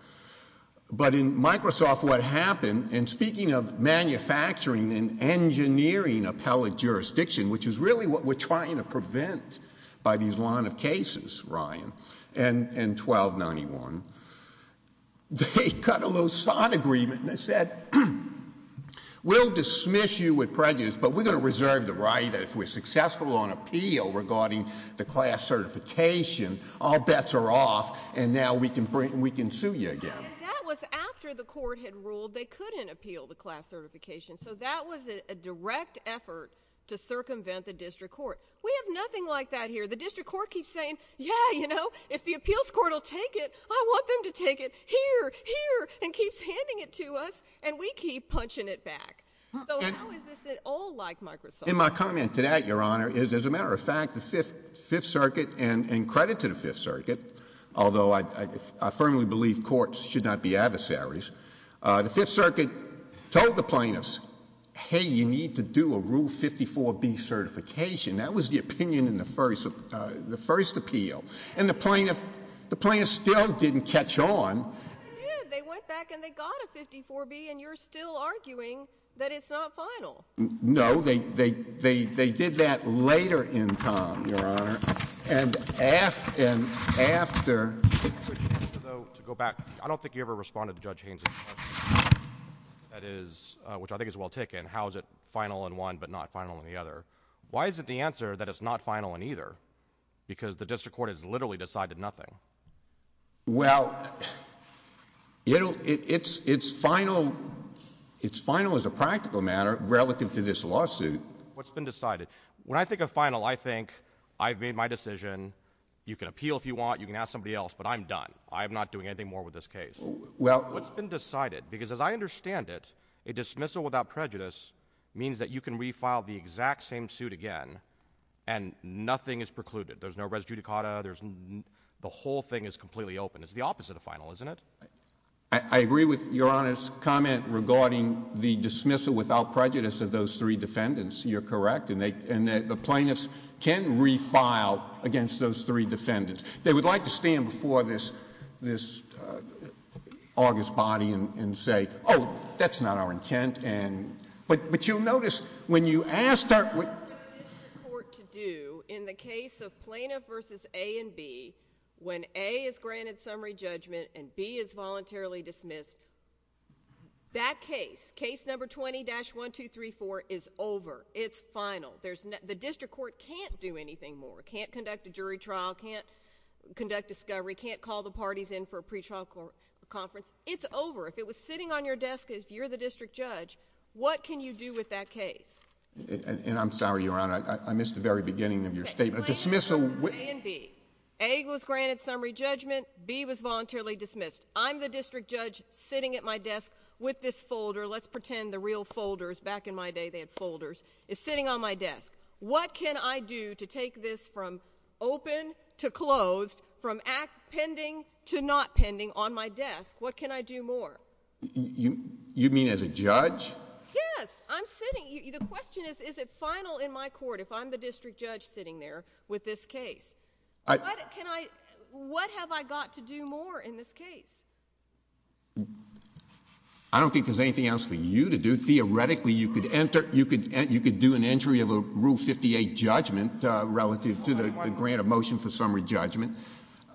But in Microsoft, what happened, and speaking of manufacturing and engineering appellate jurisdiction, which is really what we're trying to prevent by these line of cases, Ryan, and 1291, they cut a little sod agreement. They said, we'll dismiss you with prejudice, but we're going to reserve the right if we're going to appeal the class certification. All bets are off, and now we can sue you again. That was after the court had ruled they couldn't appeal the class certification. So that was a direct effort to circumvent the district court. We have nothing like that here. The district court keeps saying, yeah, you know, if the appeals court will take it, I want them to take it here, here, and keeps handing it to us, and we keep punching it back. So how is this at all like Microsoft? My comment to that, Your Honor, is as a matter of fact, the Fifth Circuit, and credit to the Fifth Circuit, although I firmly believe courts should not be adversaries, the Fifth Circuit told the plaintiffs, hey, you need to do a Rule 54B certification. That was the opinion in the first appeal. And the plaintiffs still didn't catch on. Yeah, they went back and they got a 54B, and you're still arguing that it's not final. No, they did that later in time, Your Honor, and after. So to go back, I don't think you ever responded to Judge Haynes' question, which I think is well taken. How is it final in one but not final in the other? Why is it the answer that it's not final in either? Because the district court has literally decided nothing. Well, you know, it's final as a practical matter relevant to this lawsuit. What's been decided? When I think of final, I think I've made my decision. You can appeal if you want. You can ask somebody else, but I'm done. I'm not doing anything more with this case. Well, what's been decided? Because as I understand it, a dismissal without prejudice means that you can refile the exact same suit again, and nothing is precluded. There's no res judicata. The whole thing is completely open. It's the opposite of final, isn't it? I agree with Your Honor's comment regarding the dismissal without prejudice of those three defendants. You're correct, and the plaintiffs can refile against those three defendants. They would like to stand before this august body and say, oh, that's not our intent, but you'll notice when you ask our court to do. In the case of Plano versus A and B, when A is granted summary judgment and B is voluntarily dismissed, that case, case number 20-1234 is over. It's final. There's no, the district court can't do anything more. Can't conduct a jury trial. Can't conduct discovery. Can't call the parties in for a pretrial conference. It's over. If it was sitting on your desk as you're the district judge, what can you do with that case? And I'm sorry, Your Honor. I missed the very beginning of your statement. A dismissal. A was granted summary judgment. B was voluntarily dismissed. I'm the district judge sitting at my desk with this folder. Let's pretend the real folders. Back in my day, they had folders. It's sitting on my desk. What can I do to take this from open to closed, from pending to not pending on my desk? What can I do more? You mean as a judge? Yes, I'm sitting. The question is, is it final in my court if I'm the district judge sitting there with this case? Can I, what have I got to do more in this case? I don't think there's anything else for you to do. Theoretically, you could enter, you could do an entry of a Rule 58 judgment relative to the grant of motion for summary judgment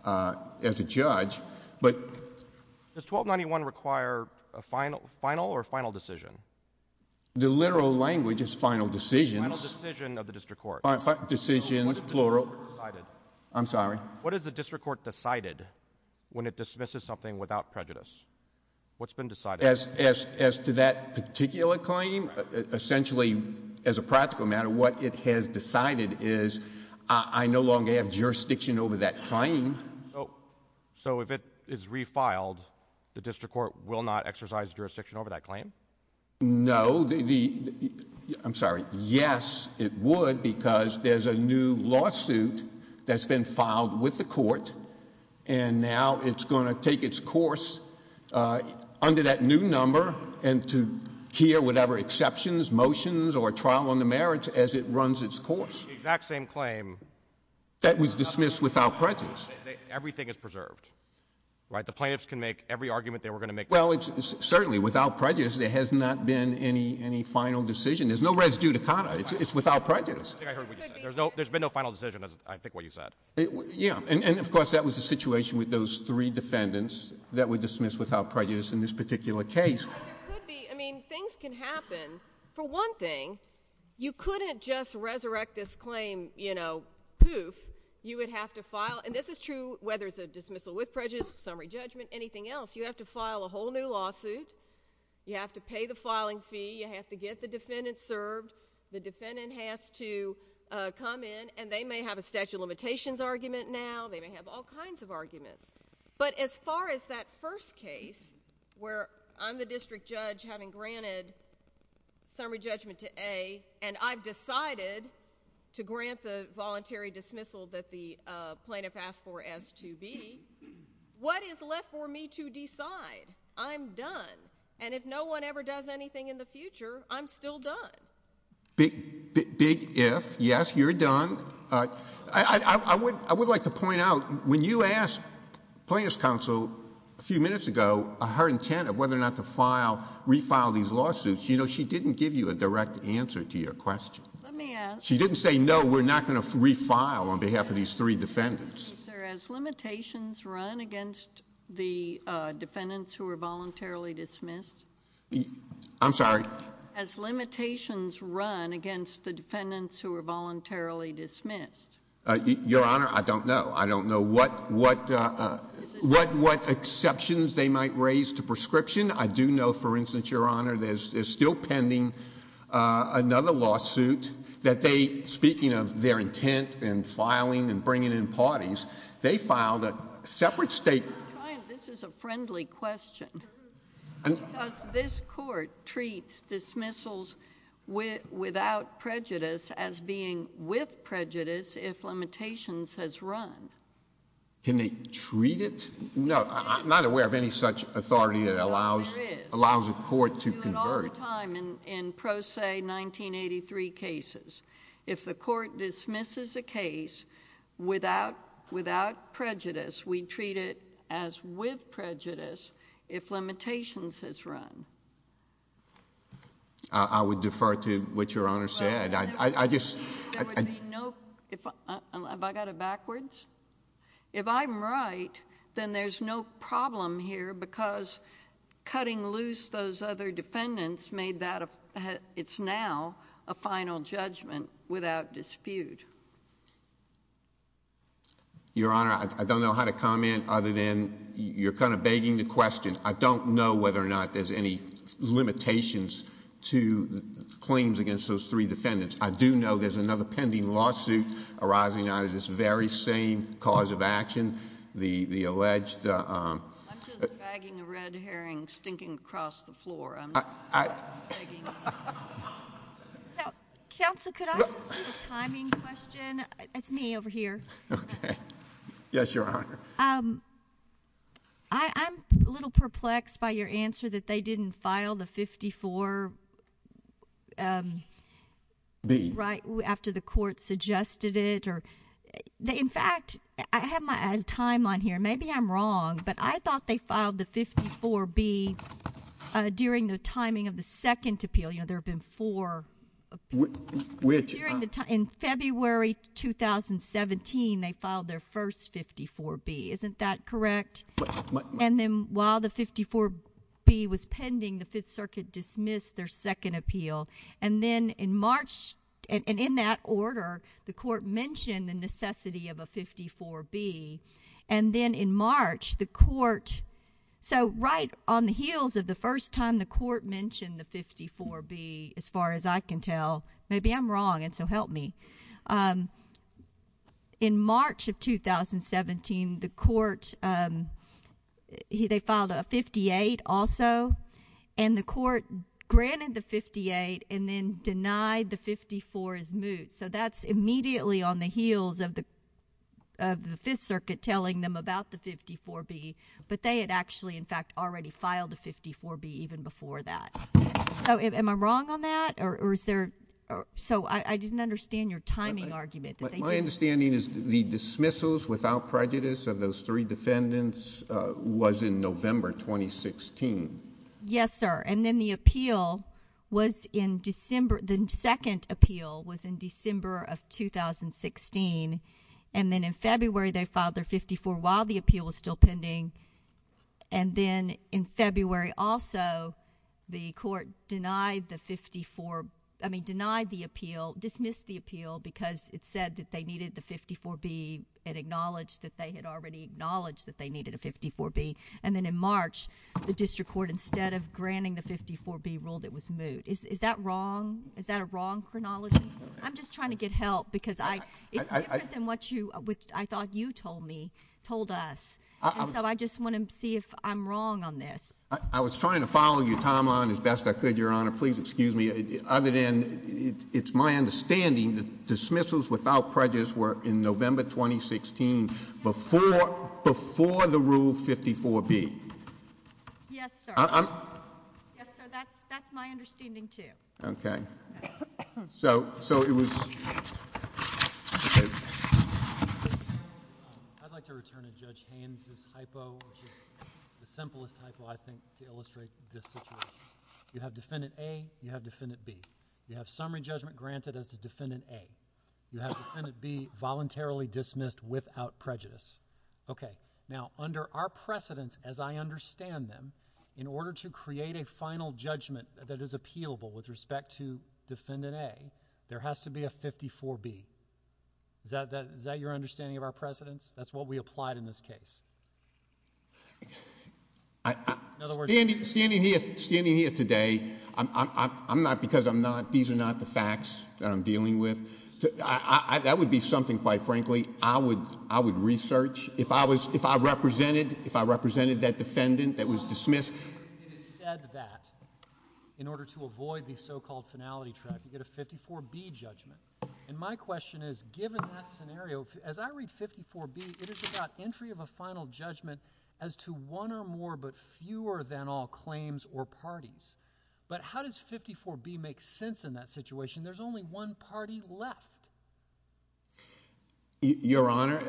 as a judge. Does 1291 require a final or final decision? The literal language is final decision. Final decision of the district court. Final decision, plural. I'm sorry. What is the district court decided when it dismisses something without prejudice? What's been decided? As to that particular claim, essentially, as a practical matter, what it has decided is I no longer have jurisdiction over that claim. No, I'm sorry. Yes, it would because there's a new lawsuit that's been filed with the court and now it's going to take its course under that new number and to hear whatever exceptions, motions, or trial on the merits as it runs its course. Exact same claim. That was dismissed without prejudice. Everything is preserved, right? The plaintiffs can make every argument they were going to make. Certainly, without prejudice, there has not been any final decision. There's no res judicata. It's without prejudice. There's been no final decision, I think what you said. Of course, that was the situation with those three defendants that were dismissed without prejudice in this particular case. Things can happen. For one thing, you couldn't just resurrect this claim, you know, poof. You would have to file, and this is true whether it's a dismissal with prejudice, summary judgment, anything else. You have to file a whole new lawsuit. You have to pay the filing fee. You have to get the defendant served. The defendant has to come in and they may have a statute of limitations argument now. They may have all kinds of arguments, but as far as that first case where I'm the district judge having granted summary judgment to A and I've decided to grant the voluntary dismissal that the plaintiff asked for S2B, what is left for me to decide? I'm done. And if no one ever does anything in the future, I'm still done. Big, big if. Yes, you're done. I would like to point out, when you asked plaintiff's counsel a few minutes ago her intent of whether or not to file, refile these lawsuits, you know, she didn't give you a direct answer to your question. Let me ask. She didn't say, no, we're not going to refile on behalf of these three defendants. Sir, as limitations run against the defendants who are voluntarily dismissed. I'm sorry. As limitations run against the defendants who are voluntarily dismissed. Your Honor, I don't know. I don't know what exceptions they might raise to prescription. I do know, for instance, Your Honor, there's still pending another lawsuit that they, speaking of their intent in filing and bringing in parties, they filed a separate statement. This is a friendly question. This court treats dismissals without prejudice as being with prejudice if limitations has run. Can they treat it? No, I'm not aware of any such authority that allows a court to convert. In pro se 1983 cases, if the court dismisses a case without prejudice, we treat it as with prejudice if limitations is run. I would defer to what Your Honor said. I just. There would be no, have I got it backwards? If I'm right, then there's no problem here because cutting loose those other defendants made that it's now a final judgment without dispute. Your Honor, I don't know how to comment other than you're kind of begging the question. I don't know whether or not there's any limitations to claims against those three defendants. I do know there's another pending lawsuit arising out of this very same cause of action, the alleged. I'm just bagging a red herring stinking across the floor. Counselor, could I ask a timing question? It's me over here. Yes, Your Honor. I'm a little perplexed by your answer that they didn't file the 54. Be right after the court suggested it, or in fact, I have my time on here. Maybe I'm wrong, but I thought they filed the 54 be during the timing of the second appeal. You know, there have been four. Which in February 2017, they filed their first 54 be. Isn't that correct? And then while the 54 be was pending, the Fifth Circuit dismissed their second appeal. And then in March, and in that order, the court mentioned the necessity of a 54 be. And then in March, the court. So right on the heels of the first time the court mentioned the 54 be as far as I can tell. Maybe I'm wrong and so help me. In March of 2017, the court, they filed a 58 also, and the court granted the 58 and then denied the 54 as moot. So that's immediately on the heels of the Fifth Circuit telling them about the 54 be. But they had actually, in fact, already filed the 54 be even before that. So am I wrong on that? Or is there? So I didn't understand your timing argument. My understanding is the dismissals without prejudice of those three defendants was in November 2016. Yes, sir. And then the appeal was in December. The second appeal was in December of 2016. And then in February, they filed their 54 while the appeal was still pending. And then in February, also, the court denied the 54, I mean, denied the appeal, dismissed the appeal because it said that they needed the 54 be and acknowledged that they had already acknowledged that they needed a 54 be. And then in March, the district court, instead of granting the 54 be ruled it was moot. Is that wrong? Is that a wrong chronology? I'm just trying to get help because I think what you, which I thought you told me, told us, I just want to see if I'm wrong on this. I was trying to follow your time on as best I could, your honor. Please excuse me. Other than it's my understanding that dismissals without prejudice were in November 2016 before before the rule 54 be. Yes, sir. Yes, sir. That's that's my understanding, too. Okay, so so it was. I'd like to return to Judge Haynes' typo, which is the simplest typo, I think, to illustrate this situation. You have Defendant A, you have Defendant B. You have summary judgment granted as to Defendant A. You have Defendant B voluntarily dismissed without prejudice. Okay. Now, under our precedent, as I understand them, in order to create a final judgment that is appealable with respect to Defendant A, there has to be a 54 B. Is that that is that your understanding of our precedents? That's what we applied in this case. In other words, standing here standing here today, I'm not because I'm not. These are not the facts that I'm dealing with. That would be something, quite frankly, I would I would research if I was if I represented if I represented that defendant that was dismissed. Said that in order to avoid the so-called finality trial, you get a 54 B judgment. And my question is, given that scenario, as I read 54 B, it is about entry of a final judgment as to one or more but fewer than all claims or parties. But how does 54 B make sense in that situation? There's only one party left. Your Honor,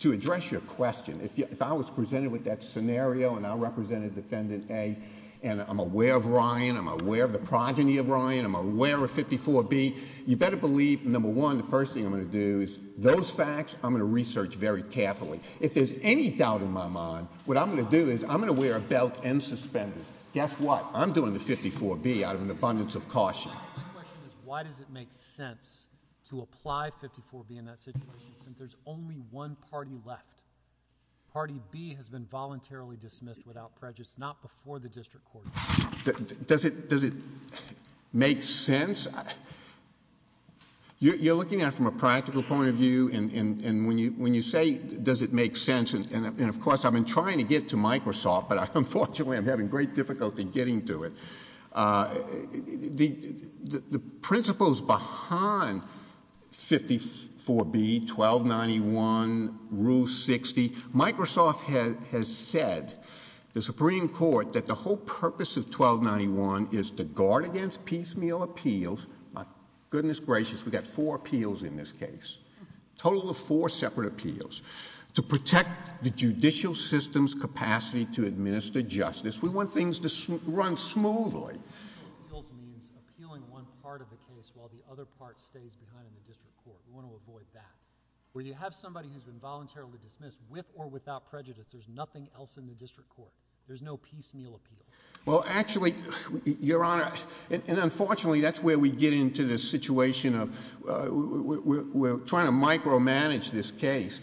to address your question, if I was presented with that scenario and I represented Defendant A and I'm aware of Ryan, I'm aware of the progeny of Ryan, I'm aware of 54 B, you better believe, number one, the first thing I'm going to do is those facts I'm going to research very carefully. If there's any doubt in my mind, what I'm going to do is I'm going to wear a belt and suspend it. Guess what? I'm doing the 54 B out of an abundance of caution. Why does it make sense to apply 54 B in that situation? There's only one party left. Party B has been voluntarily dismissed without prejudice, not before the district court. Does it make sense? You're looking at it from a practical point of view, and when you say does it make sense, and of course, I've been trying to get to Microsoft, but unfortunately, I'm having great difficulty getting to it. The principles behind 54 B, 1291, Rule 60, Microsoft has said, the Supreme Court, that the whole purpose of 1291 is to guard against piecemeal appeals, goodness gracious, we've got four appeals in this case, total of four separate appeals, to protect the judicial system's capacity to administer justice. We want things to run smoothly. Appealing one part of the case while the other part stays behind the district court. We want to avoid that. When you have somebody who's been voluntarily dismissed with or without prejudice, there's nothing else in the district court. There's no piecemeal appeal. Well, actually, Your Honor, and unfortunately, that's where we get into the situation of we're trying to micromanage this case.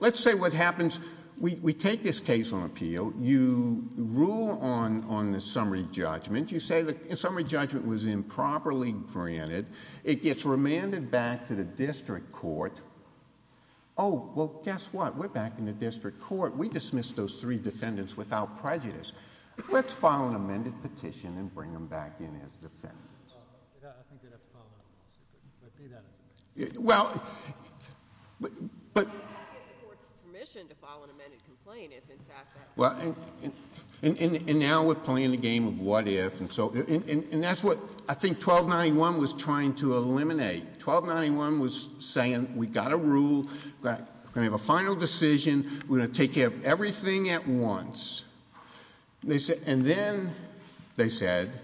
Let's say what happens, we take this case on appeal, you rule on the summary judgment, you say the summary judgment was improperly granted, it gets remanded back to the district court, oh, well, guess what? We're back in the district court. We dismissed those three defendants without prejudice. Let's file an amended petition and bring them back in as defendants. Well, but... Well, and now we're playing the game of what if, and that's what I think 1291 was trying to eliminate. 1291 was saying we've got a rule, we're going to have a final decision, we're going to take care of everything at once. And then they said,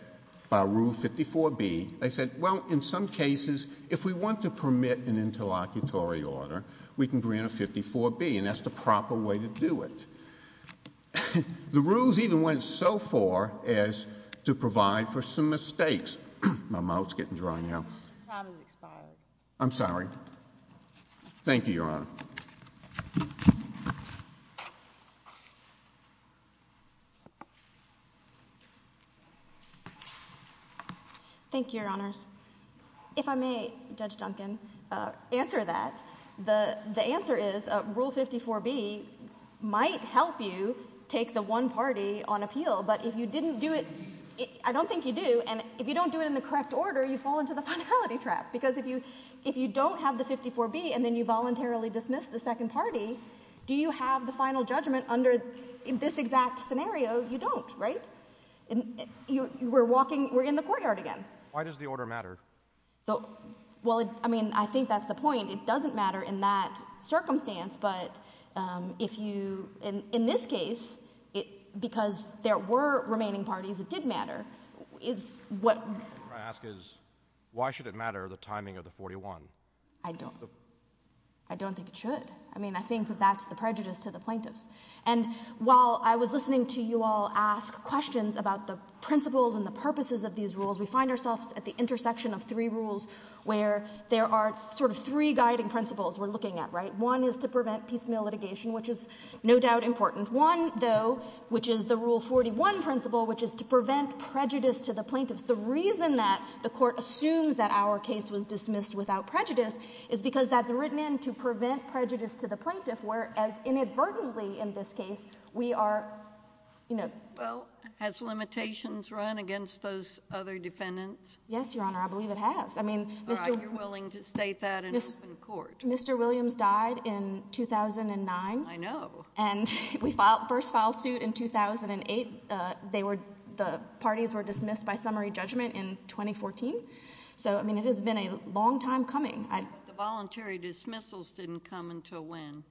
by Rule 54B, they said, well, in some cases, if we want to permit an interlocutory order, we can bring in a 54B, and that's the proper way to do it. The rules even went so far as to provide for some mistakes. My mouth's getting dry now. How do we file it? I'm sorry. Thank you, Your Honor. If I may, Judge Duncan, answer that, the answer is, Rule 54B might help you take the one party on appeal, but if you didn't do it, I don't think you do, and if you don't do it in the correct order, you fall into the finality trap. Because if you don't have the 54B, and then you voluntarily dismiss the second party, do you have the final judgment under this exact order? In that scenario, you don't, right? We're walking, we're in the courtyard again. Why does the order matter? Well, I mean, I think that's the point. It doesn't matter in that circumstance, but if you, in this case, because there were remaining parties, it did matter. My question is, why should it matter, the timing of the 41? I don't think it should. I mean, I think that that's the prejudice to the plaintiffs. And while I was listening to you all ask questions about the principles and the purposes of these rules, we find ourselves at the intersection of three rules where there are sort of three guiding principles we're looking at, right? One is to prevent piecemeal litigation, which is no doubt important. One, though, which is the Rule 41 principle, which is to prevent prejudice to the plaintiffs. The reason that the court assumes that our case was dismissed without prejudice is because that's written in to prevent prejudice to the plaintiffs, where as inadvertently in this case, we are, you know. Well, has limitations run against those other defendants? Yes, Your Honor, I believe it has. I mean, Mr. Williams died in 2009. I know. And we first filed suit in 2008. They were, the parties were dismissed by summary judgment in 2014. So, I mean, it has been a long time coming. The voluntary dismissals didn't come until when?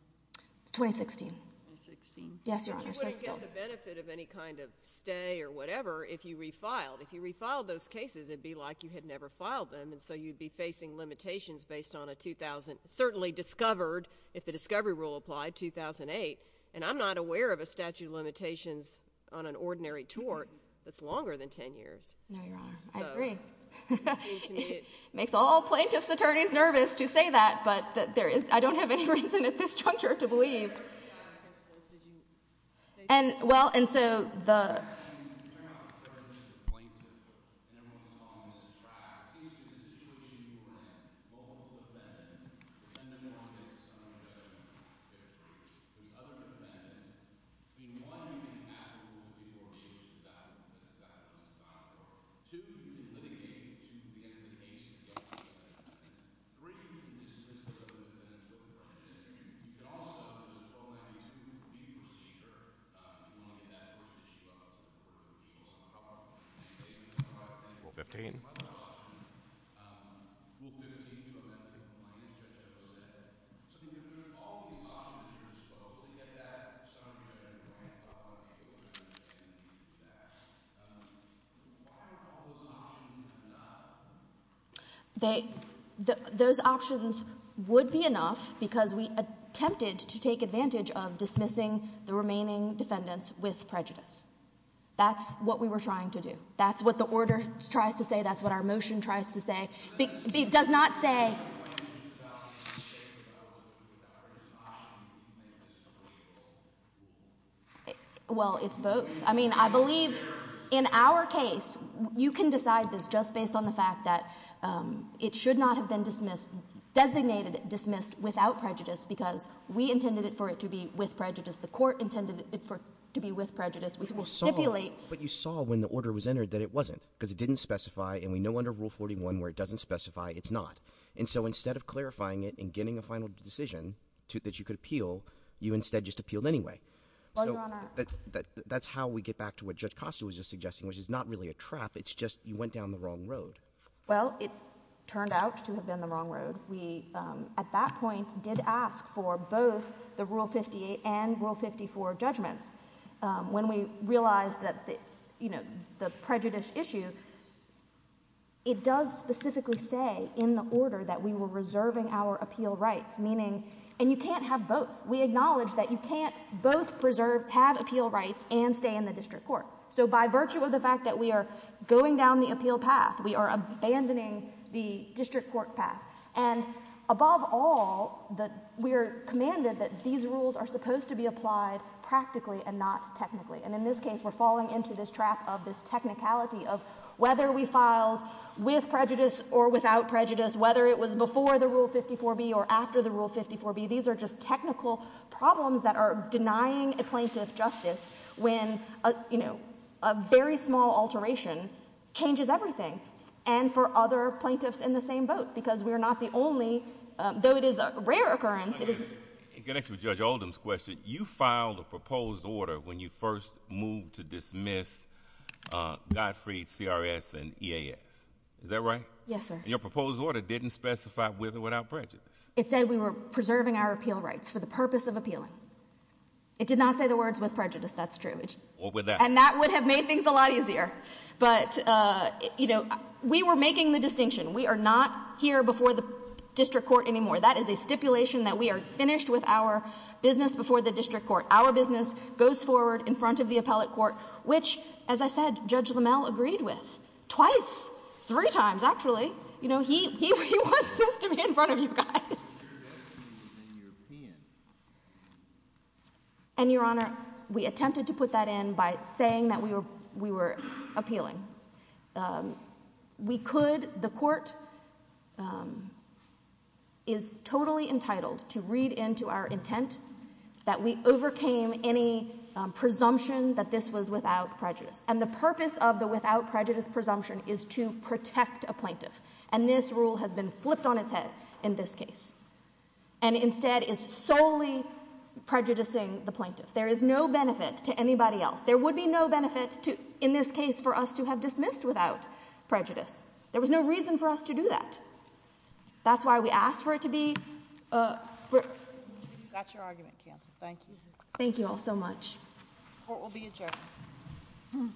2016. 2016. Yes, Your Honor. You wouldn't get the benefit of any kind of stay or whatever if you refiled. If you refiled those cases, it'd be like you had never filed them. And so you'd be facing limitations based on a 2000, certainly discovered, if the discovery rule applied, 2008. And I'm not aware of a statute of limitations on an ordinary tort that's longer than 10 years. No, Your Honor. I agree. It makes all plaintiff's attorneys nervous to say that, but there is, I don't have any reason at this juncture to believe. And, well, and so, the... They, those options would be enough because we attempted to take advantage of dismissing the remaining defendants with prejudice. That's what we were trying to do. That's what the order tries to say. That's what our motion tries to say. It does not say... Well, it's both. I mean, I believe in our case, you can decide this just based on the fact that it should not have been dismissed, designated dismissed without prejudice, because we intended it for it to be with prejudice. The court intended it for, to be with prejudice. We will stipulate... But you saw when the order was entered that it wasn't, because it didn't specify, and we know under Rule 41 where it doesn't specify, it's not. And so instead of clarifying it and getting the final decision to, that you could appeal, you instead just appealed anyway. Well, Your Honor... That's how we get back to what Judge Costa was just suggesting, which is not really a trap. It's just you went down the wrong road. Well, it turned out to have been the wrong road. We, at that point, did ask for both the Rule 58 and Rule 54 of judgment. When we realized that, you know, the prejudice issue, it does specifically say in the order that we were reserving our appeal rights, meaning... And you can't have both. We acknowledge that you can't both preserve, have appeal rights, and stay in the district court. So by virtue of the fact that we are going down the appeal path, we are abandoning the district court path. And above all, we are commanded that these rules are supposed to be applied practically and not technically. And in this case, we're falling into this trap of this technicality of whether we filed with prejudice or without prejudice, whether it was before the Rule 54B or after the Rule 54B. These are just technical problems that are denying a plaintiff justice when, you know, a very small alteration changes everything, and for other plaintiffs in the same boat, because we're not the only... Though it is a rare occurrence... It connects with Judge Oldham's question. You filed a proposed order when you first moved to dismiss Godfrey, CRS, and EAS. Is that right? Yes, sir. And your proposed order didn't specify with or without prejudice? It said we were preserving our appeal rights for the purpose of appealing. It did not say the words with prejudice. That's true. And that would have made things a lot easier. But, you know, we were making the distinction. We are not here before the district court anymore. That is a stipulation that we are finished with our business before the district court. Our business goes forward in front of the appellate court, which, as I said, Judge Lammel agreed with twice, three times, actually. You know, he wants to be in front of you guys. And, Your Honor, we attempted to put that in by saying that we were appealing. We could... The court is totally entitled to read into our intent that we overcame any presumption that this was without prejudice. And the purpose of the without prejudice presumption is to protect a plaintiff. And this rule has been flipped on its head in this case and instead is solely prejudicing the plaintiff. There is no benefit to anybody else. There would be no benefit to, in this case, for us to have dismissed without prejudice. There was no reason for us to do that. That's why we asked for it to be... That's your argument, counsel. Thank you. Thank you all so much. Court will be adjourned. Thank you.